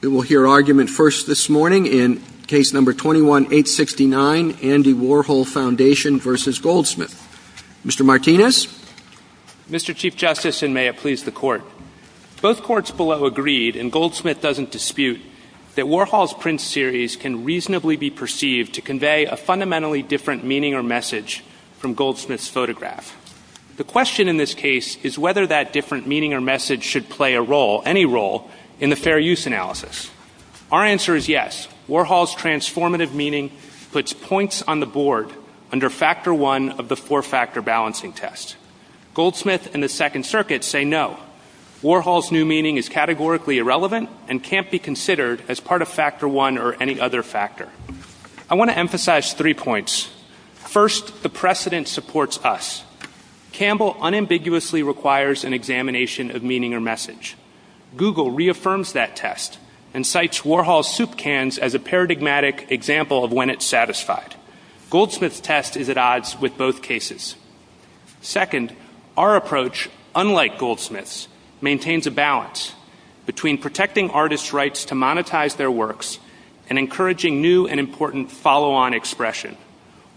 We will hear argument first this morning in case number 21-869, Andy Warhol Foundation v. Goldsmith. Mr. Martinez? Mr. Chief Justice, and may it please the Court, both courts below agreed, and Goldsmith doesn't dispute, that Warhol's print series can reasonably be perceived to convey a fundamentally different meaning or message from Goldsmith's photograph. The question in this case is whether that Our answer is yes. Warhol's transformative meaning puts points on the board under Factor One of the Four-Factor Balancing Test. Goldsmith and the Second Circuit say no. Warhol's new meaning is categorically irrelevant and can't be considered as part of Factor One or any other factor. I want to emphasize three points. First, the precedent supports us. Campbell unambiguously requires an examination of meaning or message. Google reaffirms that test and cites Warhol's soup cans as a paradigmatic example of when it's satisfied. Goldsmith's test is at odds with both cases. Second, our approach, unlike Goldsmith's, maintains a balance between protecting artists' rights to monetize their works and encouraging new and important follow-on expression.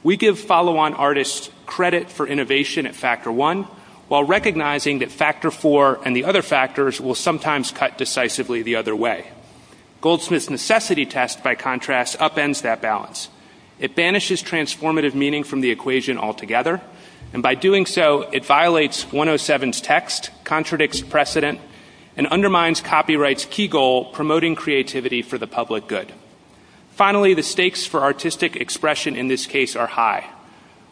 We give follow-on artists credit for innovation at Factor One while recognizing that Factor Four and the other factors will sometimes cut decisively the other way. Goldsmith's necessity test, by contrast, upends that balance. It banishes transformative meaning from the equation altogether, and by doing so, it violates 107's text, contradicts precedent, and undermines copyright's key goal, promoting creativity for the public good. Finally, the stakes for artistic expression in this case are high.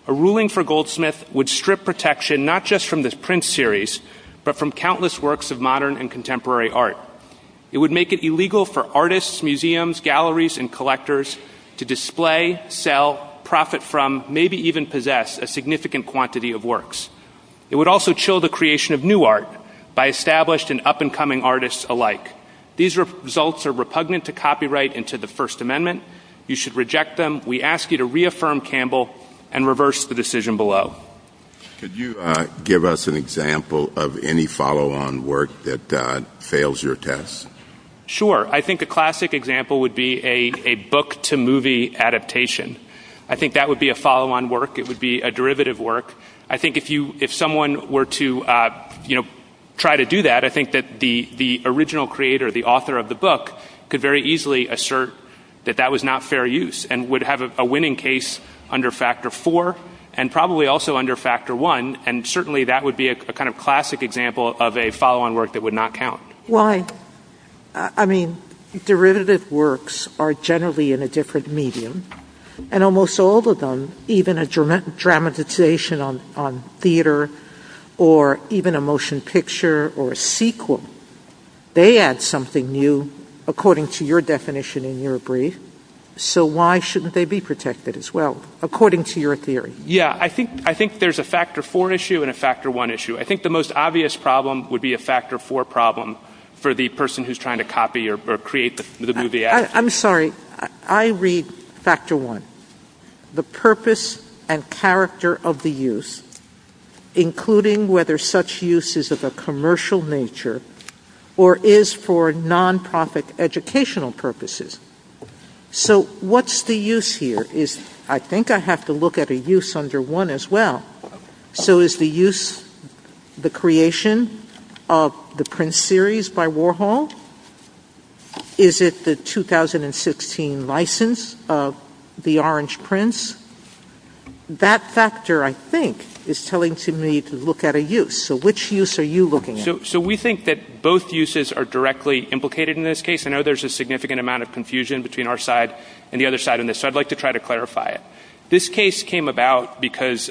A ruling for Goldsmith would strip protection not just from the print series, but from countless works of modern and contemporary art. It would make it illegal for artists, museums, galleries, and collectors to display, sell, profit from, maybe even possess a significant quantity of works. It would also chill the creation of new art by established and up-and-coming artists alike. These results are repugnant to copyright and to the First Amendment. You should reject them. We ask you to reaffirm Campbell and reverse the decision below. Could you give us an example of any follow-on work that fails your test? Sure. I think a classic example would be a book-to-movie adaptation. I think that would be a follow-on work. It would be a derivative work. I think if someone were to try to do that, I think that the original creator, the author of the book, could very easily assert that that was not fair use, and would have a winning case under Factor 4, and probably also under Factor 1, and certainly that would be a kind of classic example of a follow-on work that would not count. Why? I mean, derivative works are generally in a different medium, and almost all of them, even a dramatization on theater, or even a motion picture, or a sequel, they add something new according to your definition in your brief, so why shouldn't they be protected as well, according to your theory? Yeah, I think there's a Factor 4 issue and a Factor 1 issue. I think the most obvious problem would be a Factor 4 problem for the person who's trying to copy or create the movie adaptation. I'm sorry, I read Factor 1. The purpose and character of the use, including whether such use is of a commercial nature, or is for non-profit educational purposes. So what's the use here? I think I have to look at a use under 1 as well. So is the use the creation of the Prince series by Warhol? Is it the 2016 license of the Orange Prince? That factor, I think, is telling me to look at a use. So which use are you looking at? So we think that both uses are directly implicated in this case. I know there's a significant amount of confusion between our side and the other side on this, so I'd like to try to clarify it. This case came about because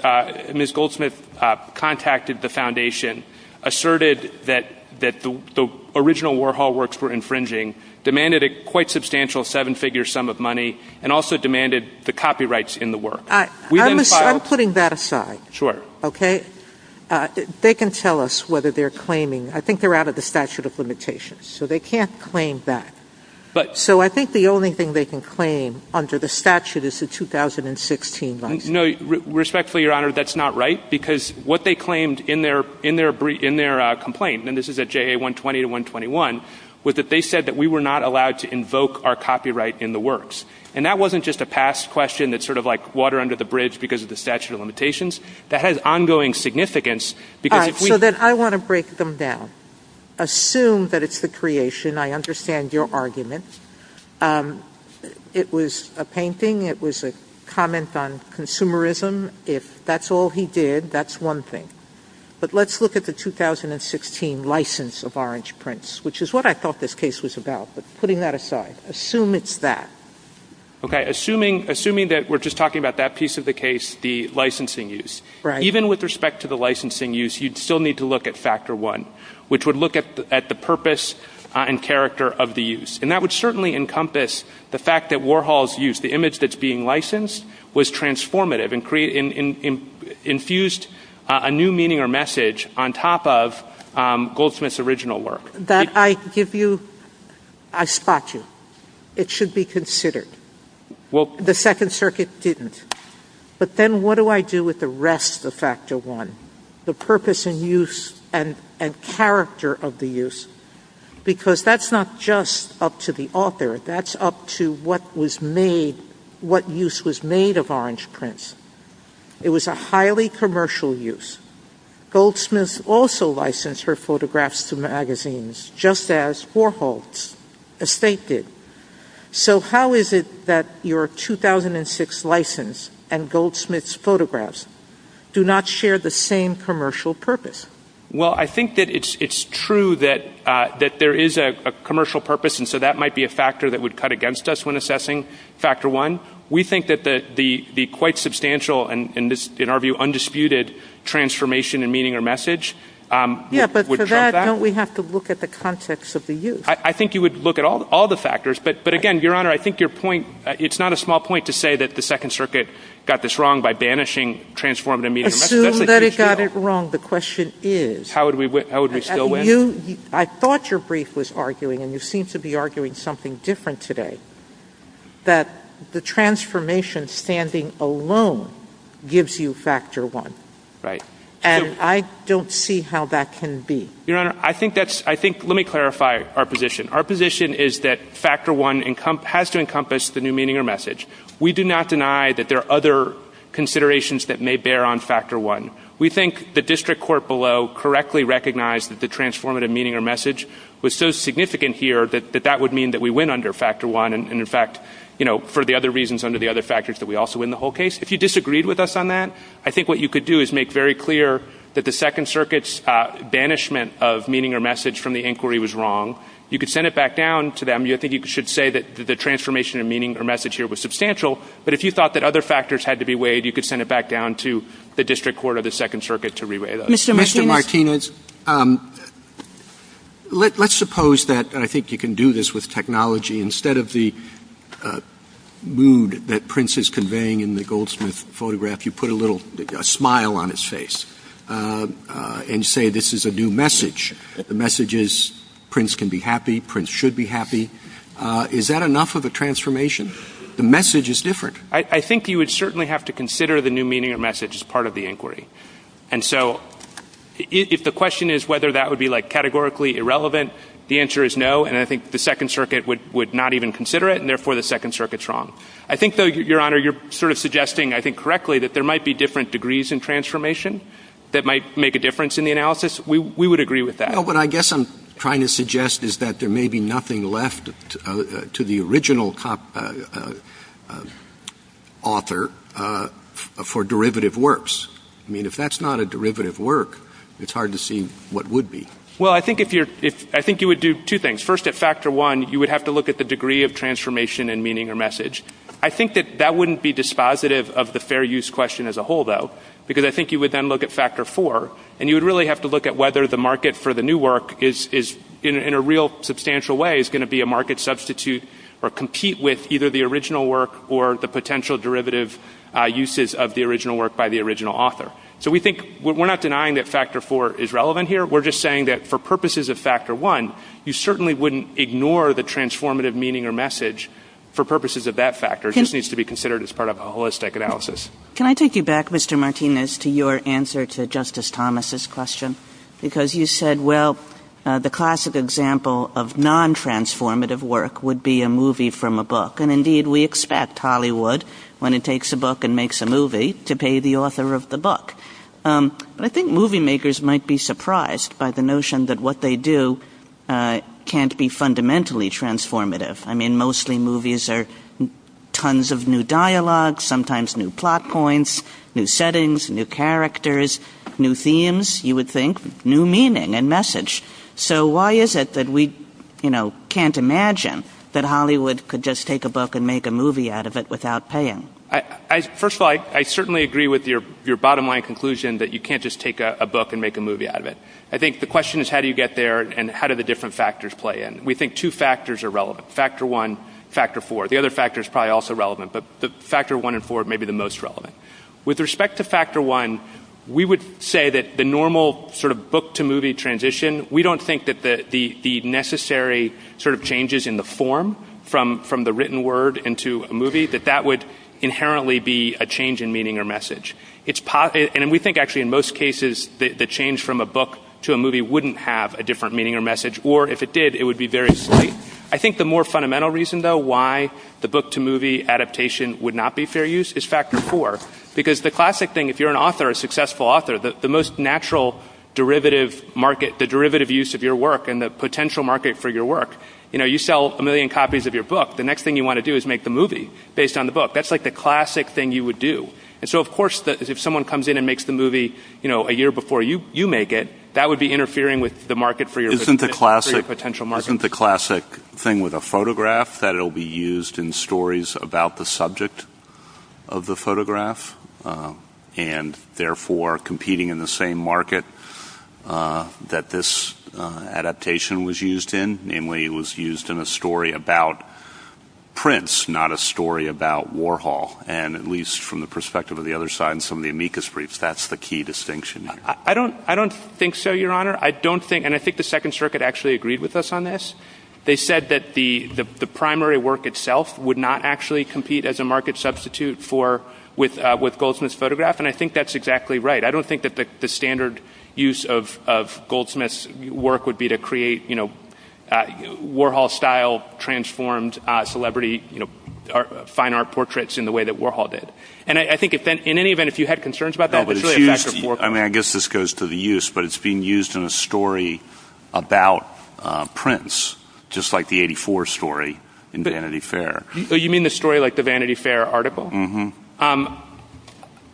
Ms. Goldsmith contacted the Foundation, asserted that the original Warhol works were infringing, demanded a quite substantial seven-figure sum of money, and also demanded the copyrights in the work. I'm putting that aside. They can tell us whether they're claiming. I think they're out of the statute of limitations, so they can't claim that. So I think the only thing they can claim under the statute is the 2016 license. Respectfully, Your Honor, that's not right, because what they claimed in their complaint, and this is at JA 120-121, was that they said that we were not allowed to invoke our copyright in the works. And that wasn't just a past question that's sort of like water under the bridge because of the statute of limitations. That has ongoing significance. So then I want to break them down. Assume that it's the creation. I understand your argument. It was a painting. It was a comment on consumerism. If that's all he did, that's one thing. But let's look at the 2016 license of Orange Prince, which is what I thought this case was about. But putting that aside, assume it's that. Okay. Assuming that we're just talking about that piece of the case, the licensing use. Even with respect to the licensing use, you'd still need to look at factor one, which would look at the purpose and character of the use. And that would certainly encompass the fact that Warhol's use, the image that's being licensed, was transformative and infused a new meaning or message on top of Goldsmith's original work. That I give you, I spot you. It should be considered. The Second Circuit didn't. But then what do I do with the rest of factor one, the purpose and use and character of the use? Because that's not just up to the author. That's up to what use was made of Orange Prince. It was a highly commercial use. Goldsmith also licensed her photographs to magazines, just as Warhol's, as Faith did. So how is it that your 2006 license and Goldsmith's photographs do not share the same commercial purpose? Well, I think that it's true that there is a commercial purpose, and so that might be a factor that would cut against us when assessing factor one. We think that the quite substantial and, in our view, undisputed transformation in meaning or message would show that. We have to look at the context of the use. I think you would look at all the factors. But again, Your Honor, I think your point, it's not a small point to say that the Second Circuit got this wrong by banishing transformative meaning or message. Assume that it got it wrong. The question is... How would we still win? I thought your brief was arguing, and you seem to be arguing something different today, that the transformation standing alone gives you factor one. Right. And I don't see how that can be. Your Honor, I think that's... Let me clarify our position. Our position is that factor one has to encompass the new meaning or message. We do not deny that there are other considerations that may bear on factor one. We think the district court below correctly recognized that the transformative meaning or message was so significant here that that would mean that we win under factor one, and in fact, you know, for the other reasons under the other factors that we also win the whole case. If you disagreed with us on that, I think what you could do is make very clear that the Second Circuit's banishment of meaning or message from the inquiry was wrong. You could send it back down to them. I think you should say that the transformation of meaning or message here was substantial. But if you thought that other factors had to be weighed, you could send it back down to the district court or the Second Circuit to reweigh those. Mr. Martinez, let's suppose that, and I think you can do this with technology, instead of the photograph, you put a little smile on his face and say this is a new message. The message is Prince can be happy. Prince should be happy. Is that enough of a transformation? The message is different. I think you would certainly have to consider the new meaning or message as part of the inquiry. And so if the question is whether that would be like categorically irrelevant, the answer is no. And I think the Second Circuit would not even consider it, wrong. I think, though, Your Honor, you're sort of suggesting, I think correctly, that there might be different degrees in transformation that might make a difference in the analysis. We would agree with that. Well, what I guess I'm trying to suggest is that there may be nothing left to the original author for derivative works. I mean, if that's not a derivative work, it's hard to see what would be. Well, I think you would do two things. First, at factor one, you would have to look at the degree of transformation and meaning or message. I think that that wouldn't be dispositive of the fair use question as a whole, though, because I think you would then look at factor four, and you would really have to look at whether the market for the new work is in a real substantial way is going to be a market substitute or compete with either the original work or the potential derivative uses of the original work by the original author. So we think we're not denying that factor four is relevant here. We're just that for purposes of factor one, you certainly wouldn't ignore the transformative meaning or message for purposes of that factor. It just needs to be considered as part of a holistic analysis. Can I take you back, Mr. Martinez, to your answer to Justice Thomas's question? Because you said, well, the classic example of non-transformative work would be a movie from a book. And indeed, we expect Hollywood, when it takes a book and makes a movie, to pay the author of the book. I think movie makers might be surprised by the notion that what they do can't be fundamentally transformative. I mean, mostly movies are tons of new dialogue, sometimes new plot points, new settings, new characters, new themes, you would think, new meaning and message. So why is it that we can't imagine that Hollywood could just take a book and make a movie out of it without paying? First of all, I certainly agree with your bottom line conclusion that you can't just take a book and make a movie out of it. I think the question is, how do you get there, and how do the different factors play in? We think two factors are relevant. Factor one, factor four. The other factor is probably also relevant, but the factor one and four may be the most relevant. With respect to factor one, we would say that the normal sort of book-to-movie transition, we don't think that the necessary sort of changes in the form from the written word into a movie, that that would inherently be a change in meaning or message. We think, actually, in most cases, the change from a book to a movie wouldn't have a different meaning or message, or if it did, it would be very slight. I think the more fundamental reason, though, why the book-to-movie adaptation would not be fair use is factor four, because the classic thing, if you're an author, a successful author, the most natural derivative market, the derivative use of your work and the potential market for your work, you sell a million copies of your book, the next thing you want to do is make a movie based on the book. That's like the movie a year before you make it. That would be interfering with the market for your potential market. Isn't the classic thing with a photograph that it'll be used in stories about the subject of the photograph, and therefore competing in the same market that this adaptation was used in, namely it was used in a story about Prince, not a story about Warhol, and at least from the key distinction. I don't think so, Your Honor. I don't think, and I think the Second Circuit actually agreed with us on this. They said that the primary work itself would not actually compete as a market substitute with Goldsmith's photograph, and I think that's exactly right. I don't think that the standard use of Goldsmith's work would be to create Warhol-style transformed celebrity fine art portraits in the way that Warhol did. And I think, in any event, if you had concerns about that, it's really a factor four. I mean, I guess this goes to the use, but it's being used in a story about Prince, just like the 84 story in Vanity Fair. You mean the story like the Vanity Fair article? Well,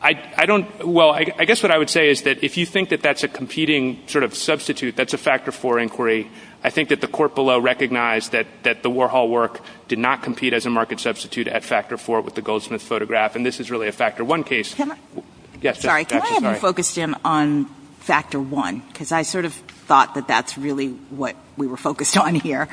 I guess what I would say is that if you think that that's a competing sort of substitute, that's a factor four inquiry. I think that the court below recognized that the Warhol work did not compete as a market substitute at factor four with the Goldsmith photograph, and this is really a factor one case. Sorry, can I have you focus in on factor one, because I sort of thought that that's really what we were focused on here.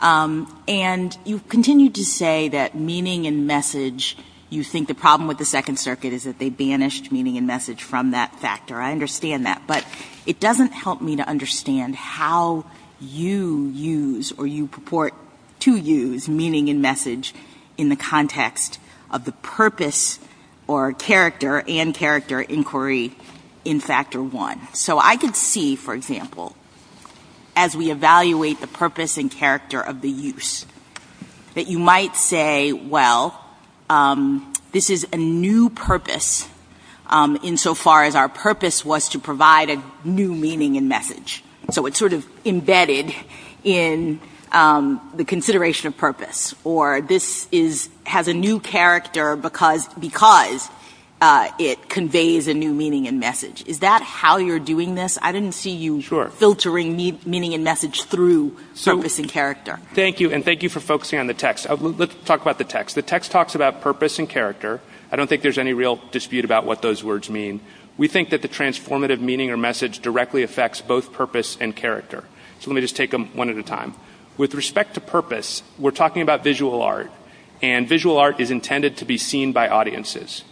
And you've continued to say that meaning and message, you think the problem with the Second Circuit is that they banished meaning and message from that factor. I understand that, but it doesn't help me to or character and character inquiry in factor one. So I could see, for example, as we evaluate the purpose and character of the use, that you might say, well, this is a new purpose insofar as our purpose was to provide a new meaning and message. So it's sort of embedded in the consideration of purpose, or this has a new character because it conveys a new meaning and message. Is that how you're doing this? I didn't see you filtering meaning and message through purpose and character. Thank you, and thank you for focusing on the text. Let's talk about the text. The text talks about purpose and character. I don't think there's any real dispute about what those words mean. We think that the transformative meaning or message directly affects both purpose and character. So let me just take them one at a time. With respect to purpose, we're talking about visual art, and visual art is intended to be seen by audiences.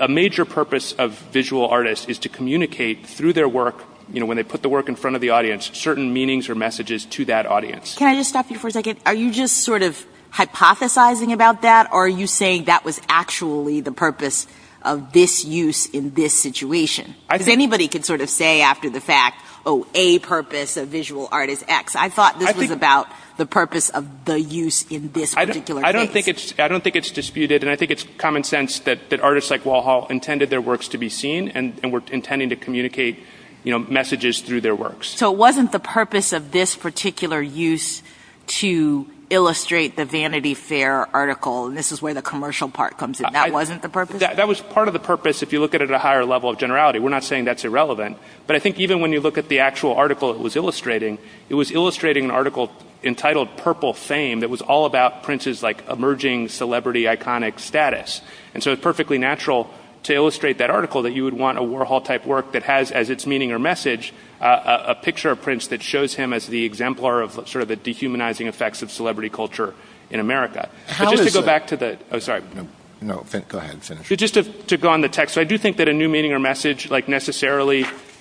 A major purpose of visual artists is to communicate through their work, when they put the work in front of the audience, certain meanings or messages to that audience. Can I just stop you for a second? Are you just sort of hypothesizing about that, or are you saying that was actually the purpose of this use in this situation? Anybody can sort of say after the fact, oh, a purpose of visual art is X. I thought this was about the purpose of the use in this particular case. I don't think it's disputed, and I think it's common sense that artists like Walhall intended their works to be seen, and were intending to communicate messages through their works. So it wasn't the purpose of this particular use to illustrate the Vanity Fair article, and this is where the commercial part comes in. That wasn't the purpose? That was part of the purpose, if you look at it at a higher level of generality. We're not saying that's irrelevant, but I think even when you look at the actual article it was illustrating, it was illustrating an article entitled Purple Fame that was all about Prince's emerging celebrity iconic status. And so it's perfectly natural to illustrate that article that you would want a Walhall-type work that has, as its meaning or message, a picture of Prince that shows him as the exemplar of sort of the dehumanizing effects of celebrity culture in necessarily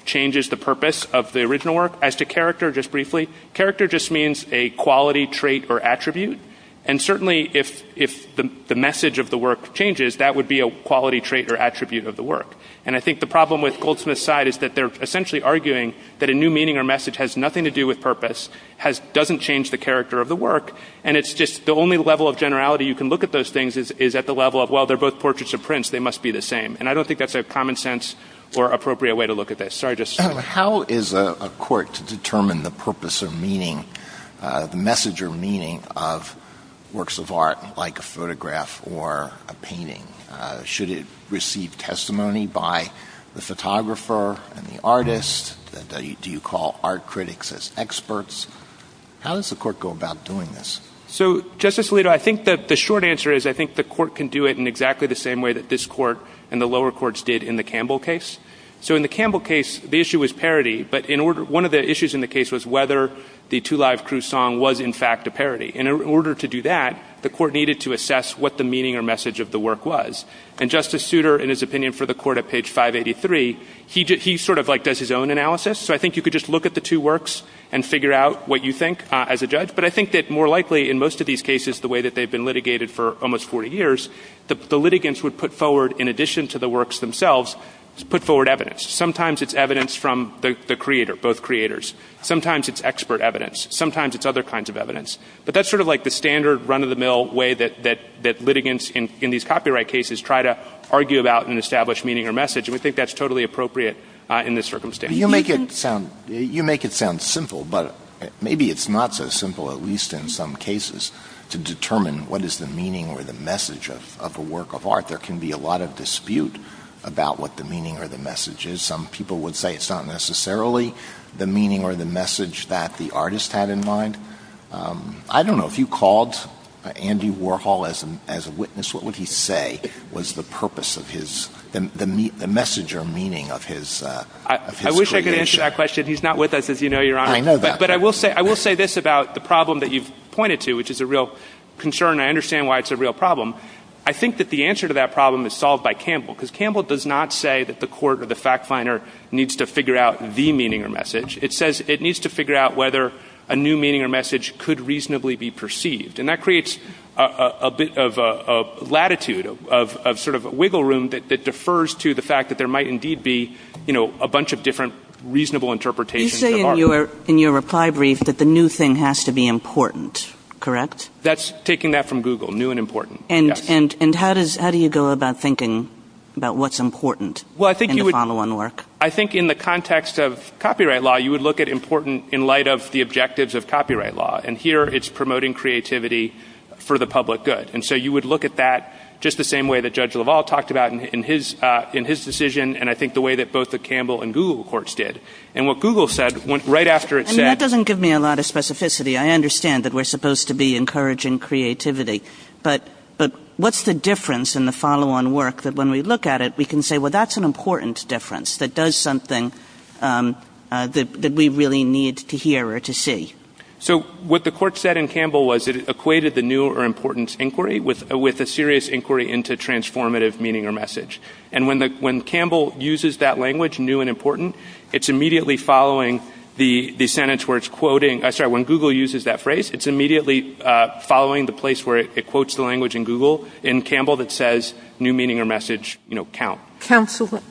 changes the purpose of the original work. As to character, just briefly, character just means a quality, trait, or attribute, and certainly if the message of the work changes, that would be a quality, trait, or attribute of the work. And I think the problem with Goldsmith's side is that they're essentially arguing that a new meaning or message has nothing to do with purpose, doesn't change the character of the work, and it's just the only level of generality you can look at those things is at the level of, well, they're both portraits of Prince, they must be the same. And I don't think that's a common sense or appropriate way to look at this. Sorry, just saying. How is a court to determine the purpose of meaning, the message or meaning of works of art like a photograph or a painting? Should it receive testimony by the photographer and the artist? Do you call art critics as experts? How does the court go about doing this? So, Justice Alito, I think that the short answer is I think the court can do it in exactly the same way that this court and the lower courts did in the Campbell case. So in the Campbell case, the issue was parody, but one of the issues in the case was whether the Two Live Crew song was, in fact, a parody. In order to do that, the court needed to assess what the meaning or message of the work was. And Justice Souter, in his opinion for the court at page 583, he sort of like does his own analysis. So I think you could just look at the two works and figure out what you think as a judge. But I think that more likely in most of these cases, the way that they've been put forward, in addition to the works themselves, is put forward evidence. Sometimes it's evidence from the creator, both creators. Sometimes it's expert evidence. Sometimes it's other kinds of evidence. But that's sort of like the standard run-of-the-mill way that litigants in these copyright cases try to argue about and establish meaning or message. And we think that's totally appropriate in this circumstance. You make it sound simple, but maybe it's not so simple, at least in some cases, to determine what is the meaning or the message of a work of art. There can be a lot of dispute about what the meaning or the message is. Some people would say it's not necessarily the meaning or the message that the artist had in mind. I don't know, if you called Andy Warhol as a witness, what would he say was the purpose of his, the message or meaning of his creation? I wish I could answer that question. He's not with us, as you know, Your Honor. But I will say this about the problem that you've pointed to, which is a real concern. I understand why it's a real problem. I think that the answer to that problem is solved by Campbell. Because Campbell does not say that the court or the fact finder needs to figure out the meaning or message. It says it needs to figure out whether a new meaning or message could reasonably be perceived. And that creates a bit of latitude, of sort of wiggle room that defers to the fact that there might indeed be, you know, a bunch of different reasonable interpretations of art. You say in your reply brief that the new thing has to be important, correct? That's taking that from Google, new and important. And how do you go about thinking about what's important? Well, I think in the context of copyright law, you would look at important in light of the objectives of copyright law. And here it's promoting creativity for the public good. And so you would look at that just the same way that Judge LaValle talked about in his decision, and I think the way that both the Campbell and Google courts did. And what Google said, right after it said... But what's the difference in the follow-on work that when we look at it, we can say, well, that's an important difference that does something that we really need to hear or to see? So what the court said in Campbell was it equated the new or important inquiry with a serious inquiry into transformative meaning or message. And when Campbell uses that language, new and important, it's immediately following the sentence where it's quoting... I'm sorry, when Google uses that phrase, it's immediately following the place where it quotes the language in Google in Campbell that says new meaning or message count. Counsel,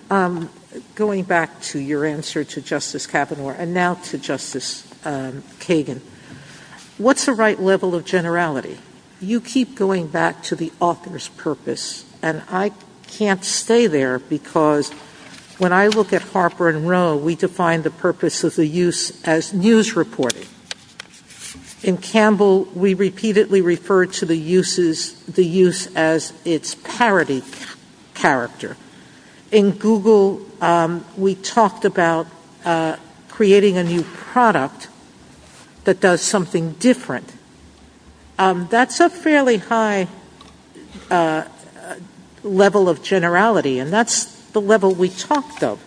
going back to your answer to Justice Kavanaugh and now to Justice Kagan, what's the right level of generality? You keep going back to the author's purpose, and I can't stay there because when I look at Harper and Rowe, we define the purpose of the use as news reporting. In Campbell, we repeatedly referred to the use as its parody character. In Google, we talked about creating a new product that does something different. That's a fairly high level of generality, and that's the level we talked of.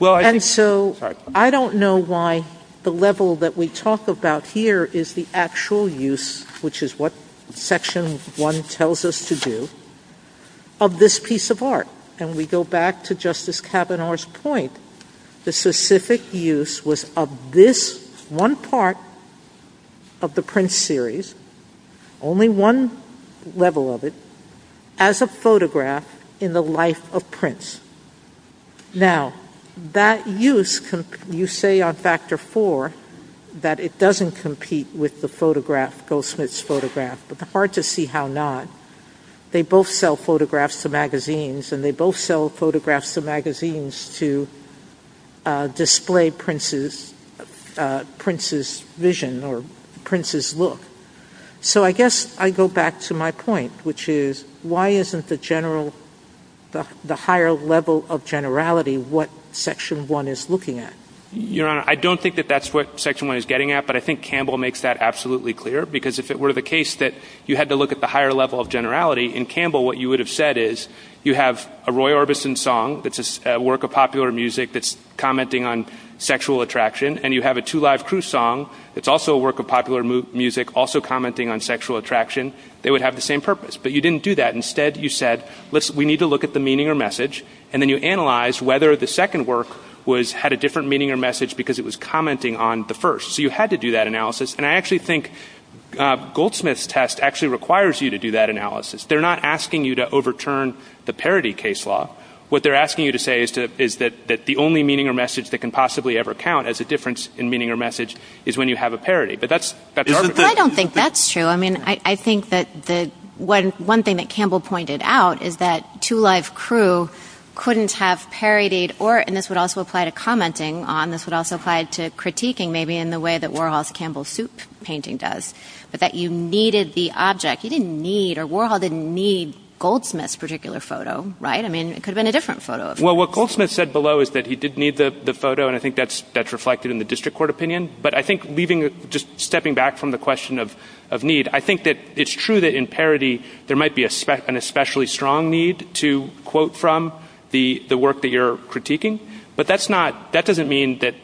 And so I don't know why the level that we talk about here is the actual use, which is what Section 1 tells us to do, of this piece of art. And we go back to Justice Kavanaugh's point. The specific use was of this one part of the Prince series, only one level of it, as a photograph in the life of Prince. Now, that use, you say on Factor 4, that it doesn't compete with the photograph, Goldsmith's photograph, but it's hard to see how not. They both sell photographs to magazines, and they both sell photographs to magazines to display Prince's vision or Prince's look. So I guess I go back to my point, which is, why isn't the higher level of generality what Section 1 is looking at? Your Honor, I don't think that that's what Section 1 is getting at, but I think Campbell makes that absolutely clear, because if it were the case that you had to look at the higher level of generality, in Campbell, what you would have said is, you have a Roy Orbison song, it's a work of popular music that's commenting on sexual attraction, and you have a Two Live Crew song, it's also a work of popular music, also commenting on sexual attraction, they would have the same purpose. But you didn't do that. Instead, you said, we need to look at the meaning or message, and then you analyzed whether the second work had a different meaning or message because it was commenting on the first. So you had to do that analysis, and I actually think Goldsmith's test actually requires you to do that analysis. They're not asking you to overturn the parody case law. What they're asking you to say is that the only meaning or message that can possibly ever count as a difference in meaning or message is when you have a parody. But I don't think that's true. I mean, I think that one thing that Campbell pointed out is that Two Live Crew couldn't have parodied or, and this would also apply to commenting on, this would also apply to critiquing maybe in the way that Warhol's Campbell Soup painting does, but that you needed the object. You didn't need, or Warhol didn't need Goldsmith's particular photo, right? I mean, it could have been a different photo. Well, what Goldsmith said below is that he did need the photo, and I think that's reflected in the district court opinion. But I think leaving, just stepping back from the question of need, I think that it's true that in parody, there might be an especially strong need to quote from the work that you're critiquing. But that's not, that doesn't mean that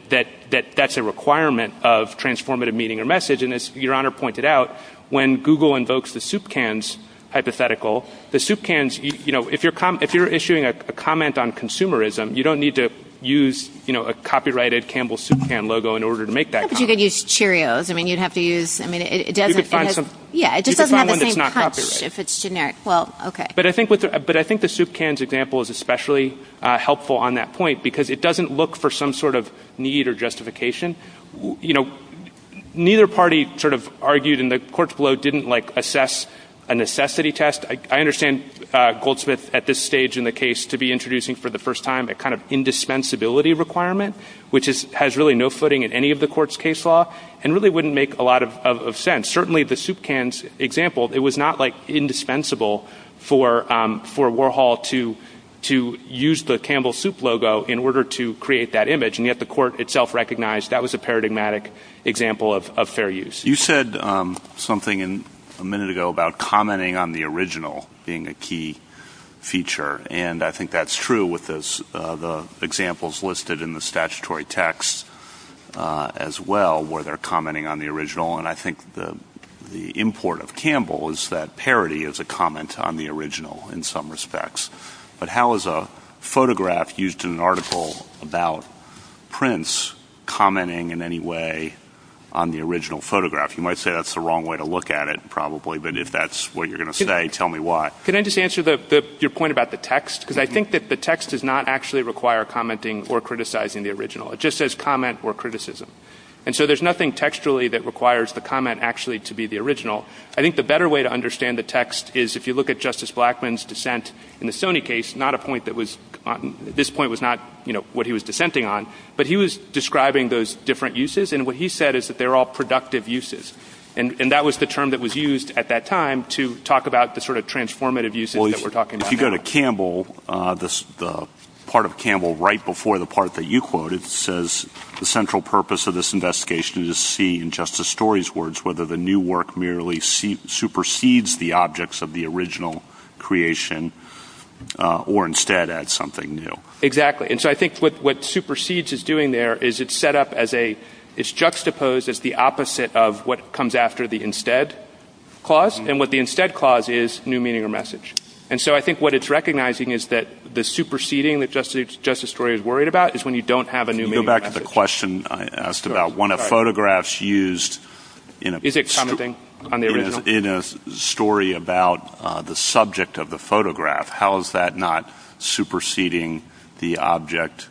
that's a requirement of transformative meaning or message. And as Your Honor pointed out, when Google invokes the soup cans, you know, if you're, if you're issuing a comment on consumerism, you don't need to use, you know, a copyrighted Campbell's Soup Can logo in order to make that comment. But you could use Cheerios. I mean, you'd have to use, I mean, it doesn't. You could find some. Yeah, it just doesn't have the same crunch. If it's generic. Well, okay. But I think with, but I think the soup cans example is especially helpful on that point, because it doesn't look for some sort of need or justification. You know, neither party sort of argued in the courts below didn't like assess a necessity test. I understand Goldsmith at this stage in the case to be introducing for the first time a kind of indispensability requirement, which has really no footing in any of the court's case law and really wouldn't make a lot of sense. Certainly the soup cans example, it was not like indispensable for Warhol to use the Campbell's Soup logo in order to create that image. And yet the court itself recognized that was a paradigmatic example of fair use. You said something in a minute ago about commenting on the original being a key feature. And I think that's true with this, the examples listed in the statutory texts as well, where they're commenting on the original. And I think the import of Campbell is that parity is a comment on the original in some respects, but how is a photograph used in an article about Prince commenting in any way on the original photograph? You might say that's the wrong way to look at it probably, but if that's what you're going to say, tell me why. Can I just answer your point about the text? Because I think that the text does not actually require commenting or criticizing the original. It just says comment or criticism. And so there's nothing textually that requires the comment actually to be the original. I think the better way to understand the text is if you look at Justice Blackmun's dissent in the Sony case, not a point that was, this point was not what he was dissenting on, but he was describing those different uses. And what he said is that they're all productive uses. And that was the term that was used at that time to talk about the sort of transformative uses that we're talking about. If you go to Campbell, the part of Campbell right before the part that you quoted says, the central purpose of this investigation is to see, in Justice Story's words, whether the new merely supersedes the objects of the original creation or instead add something new. Exactly. And so I think what supersedes is doing there is it's set up as a, it's juxtaposed as the opposite of what comes after the instead clause. And what the instead clause is new meaning or message. And so I think what it's recognizing is that the superseding that Justice Story is worried about is when you don't have a question. I asked about one of photographs used in a story about the subject of the photograph. How is that not superseding the object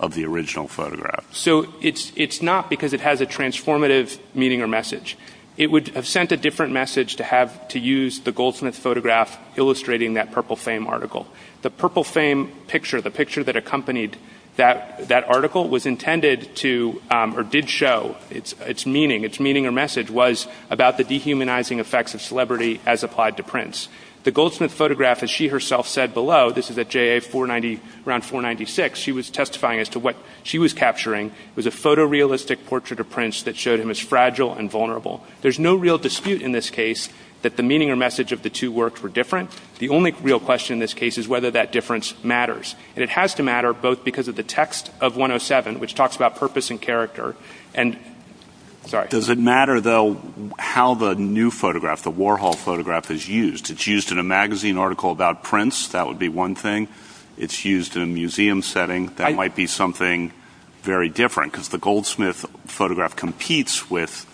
of the original photograph? So it's not because it has a transformative meaning or message. It would have sent a different message to have to use the Goldsmith photograph illustrating that Purple Fame article. The Purple Fame picture, the picture that accompanied that article was intended to, or did show its meaning. Its meaning or message was about the dehumanizing effects of celebrity as applied to prints. The Goldsmith photograph, as she herself said below, this is at JA 490, around 496, she was testifying as to what she was capturing was a photorealistic portrait of prints that showed him as fragile and vulnerable. There's no real dispute in this case that the real question in this case is whether that difference matters. And it has to matter both because of the text of 107, which talks about purpose and character. And does it matter though, how the new photograph, the Warhol photograph is used? It's used in a magazine article about prints. That would be one thing. It's used in a museum setting. That might be something very different because the Goldsmith photograph competes with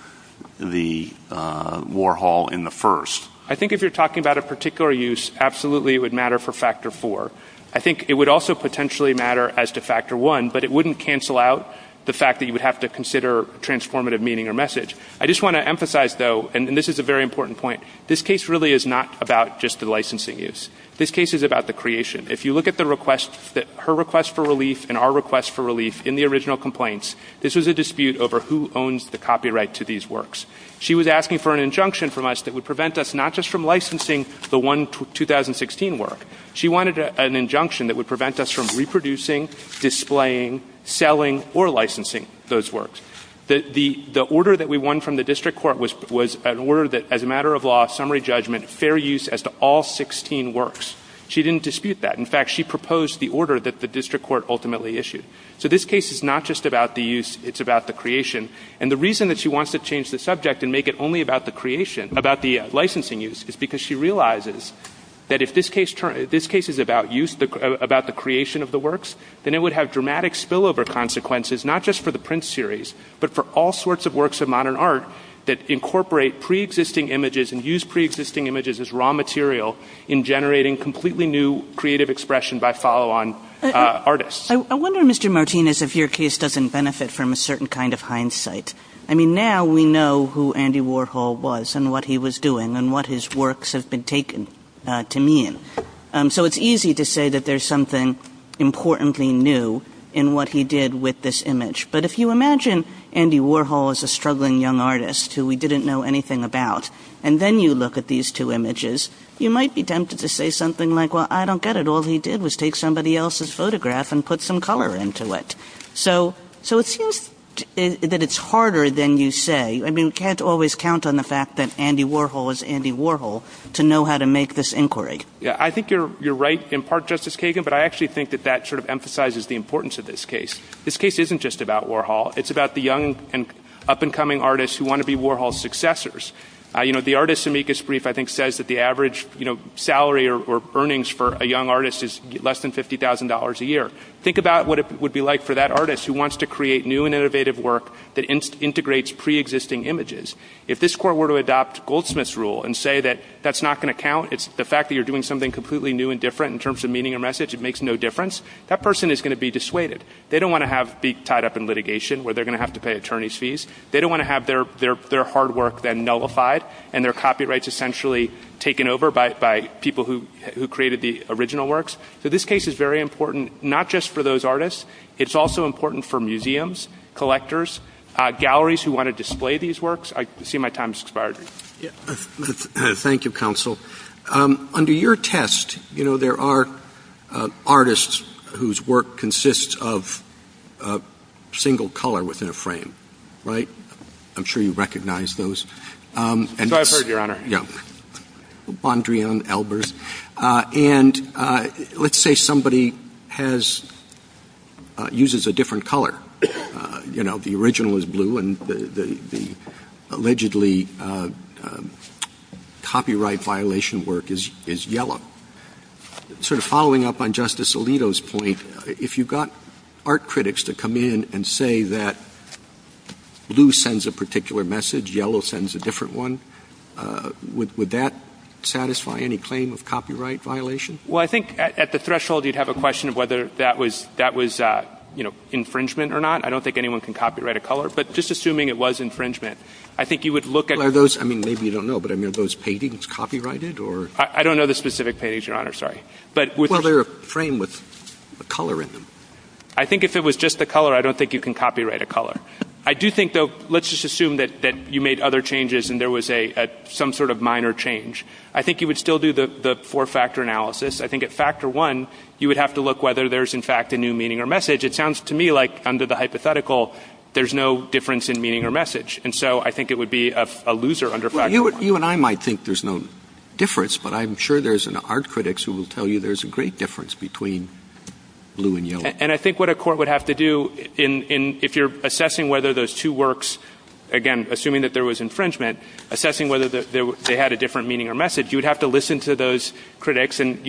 the Warhol in the first. I think if you're talking about a particular use, absolutely, it would matter for factor four. I think it would also potentially matter as to factor one, but it wouldn't cancel out the fact that you would have to consider transformative meaning or message. I just want to emphasize though, and this is a very important point. This case really is not about just the licensing use. This case is about the creation. If you look at the request that her request for relief and our request for relief in the original complaints, this is a dispute over who owns the copyright to these works. She was asking for an injunction from us that would us not just from licensing the one 2016 work. She wanted an injunction that would prevent us from reproducing, displaying, selling, or licensing those works. The order that we won from the district court was an order that as a matter of law, summary judgment, fair use as to all 16 works. She didn't dispute that. In fact, she proposed the order that the district court ultimately issued. So this case is not just about the use, it's about the creation. And the reason that she wants to change the subject and make it only about the creation, about the licensing use, is because she realizes that if this case is about the creation of the works, then it would have dramatic spillover consequences, not just for the print series, but for all sorts of works of modern art that incorporate preexisting images and use preexisting images as raw material in generating completely new creative expression by follow-on artists. I wonder, Mr. Martinez, if your case doesn't benefit from a certain kind of hindsight. I mean, now we know who Andy Warhol was and what he was doing and what his works have been taken to mean. So it's easy to say that there's something importantly new in what he did with this image. But if you imagine Andy Warhol as a struggling young artist who we didn't know anything about, and then you look at these two images, you might be tempted to say something like, well, I don't get it. All he did was take somebody else's photograph and put some color into it. So it seems that it's harder than you say. I mean, we can't always count on the fact that Andy Warhol is Andy Warhol to know how to make this inquiry. Yeah, I think you're right in part, Justice Kagan, but I actually think that that sort of emphasizes the importance of this case. This case isn't just about Warhol. It's about the young and up-and-coming artists who want to be Warhol's successors. The artist's amicus brief, I think, says that the average salary or earnings for a young artist is less than $50,000 a year. Think about what it would be like for that artist who wants to create new and innovative work that integrates pre-existing images. If this court were to adopt Goldsmith's rule and say that that's not going to count, it's the fact that you're doing something completely new and different in terms of meaning or message, it makes no difference, that person is going to be dissuaded. They don't want to be tied up in litigation where they're going to have to pay attorney's fees. They don't want to have their hard work then nullified and their copyrights essentially taken over by people who created the original works. So this case is very important, not just for those artists. It's also important for museums, collectors, galleries who want to display these works. I see my time's expired. Thank you, counsel. Under your test, there are artists whose work consists of a single color within a frame, right? I'm sure you recognize those. I've heard, Your Honor. Yeah. And let's say somebody uses a different color. The original is blue and the allegedly copyright violation work is yellow. Sort of following up on Justice Alito's point, if you've got art critics to come in and say that blue sends a particular message, yellow sends a different one, would that satisfy any claim of copyright violation? Well, I think at the threshold, you'd have a question of whether that was infringement or not. I don't think anyone can copyright a color, but just assuming it was infringement, I think you would look at those. I mean, maybe you don't know, but I mean, are those paintings copyrighted or? I don't know the specific page, Your Honor. Sorry. But they're a frame with a color in them. I think if it was just the color, I don't think you can copyright a color. I do think, though, let's just assume that you made other changes and there was some sort of minor change. I think you would still do the four-factor analysis. I think at factor one, you would have to look whether there's, in fact, a new meaning or message. It sounds to me like under the hypothetical, there's no difference in meaning or message. And so I think it would be a loser under factor one. You and I might think there's no difference, but I'm sure there's art critics who will tell you there's a great difference between blue and yellow. And I think what a court would have to do if you're assessing whether those two works, again, assuming that there was infringement, assessing whether they had a different meaning or message, you'd have to listen to those critics. And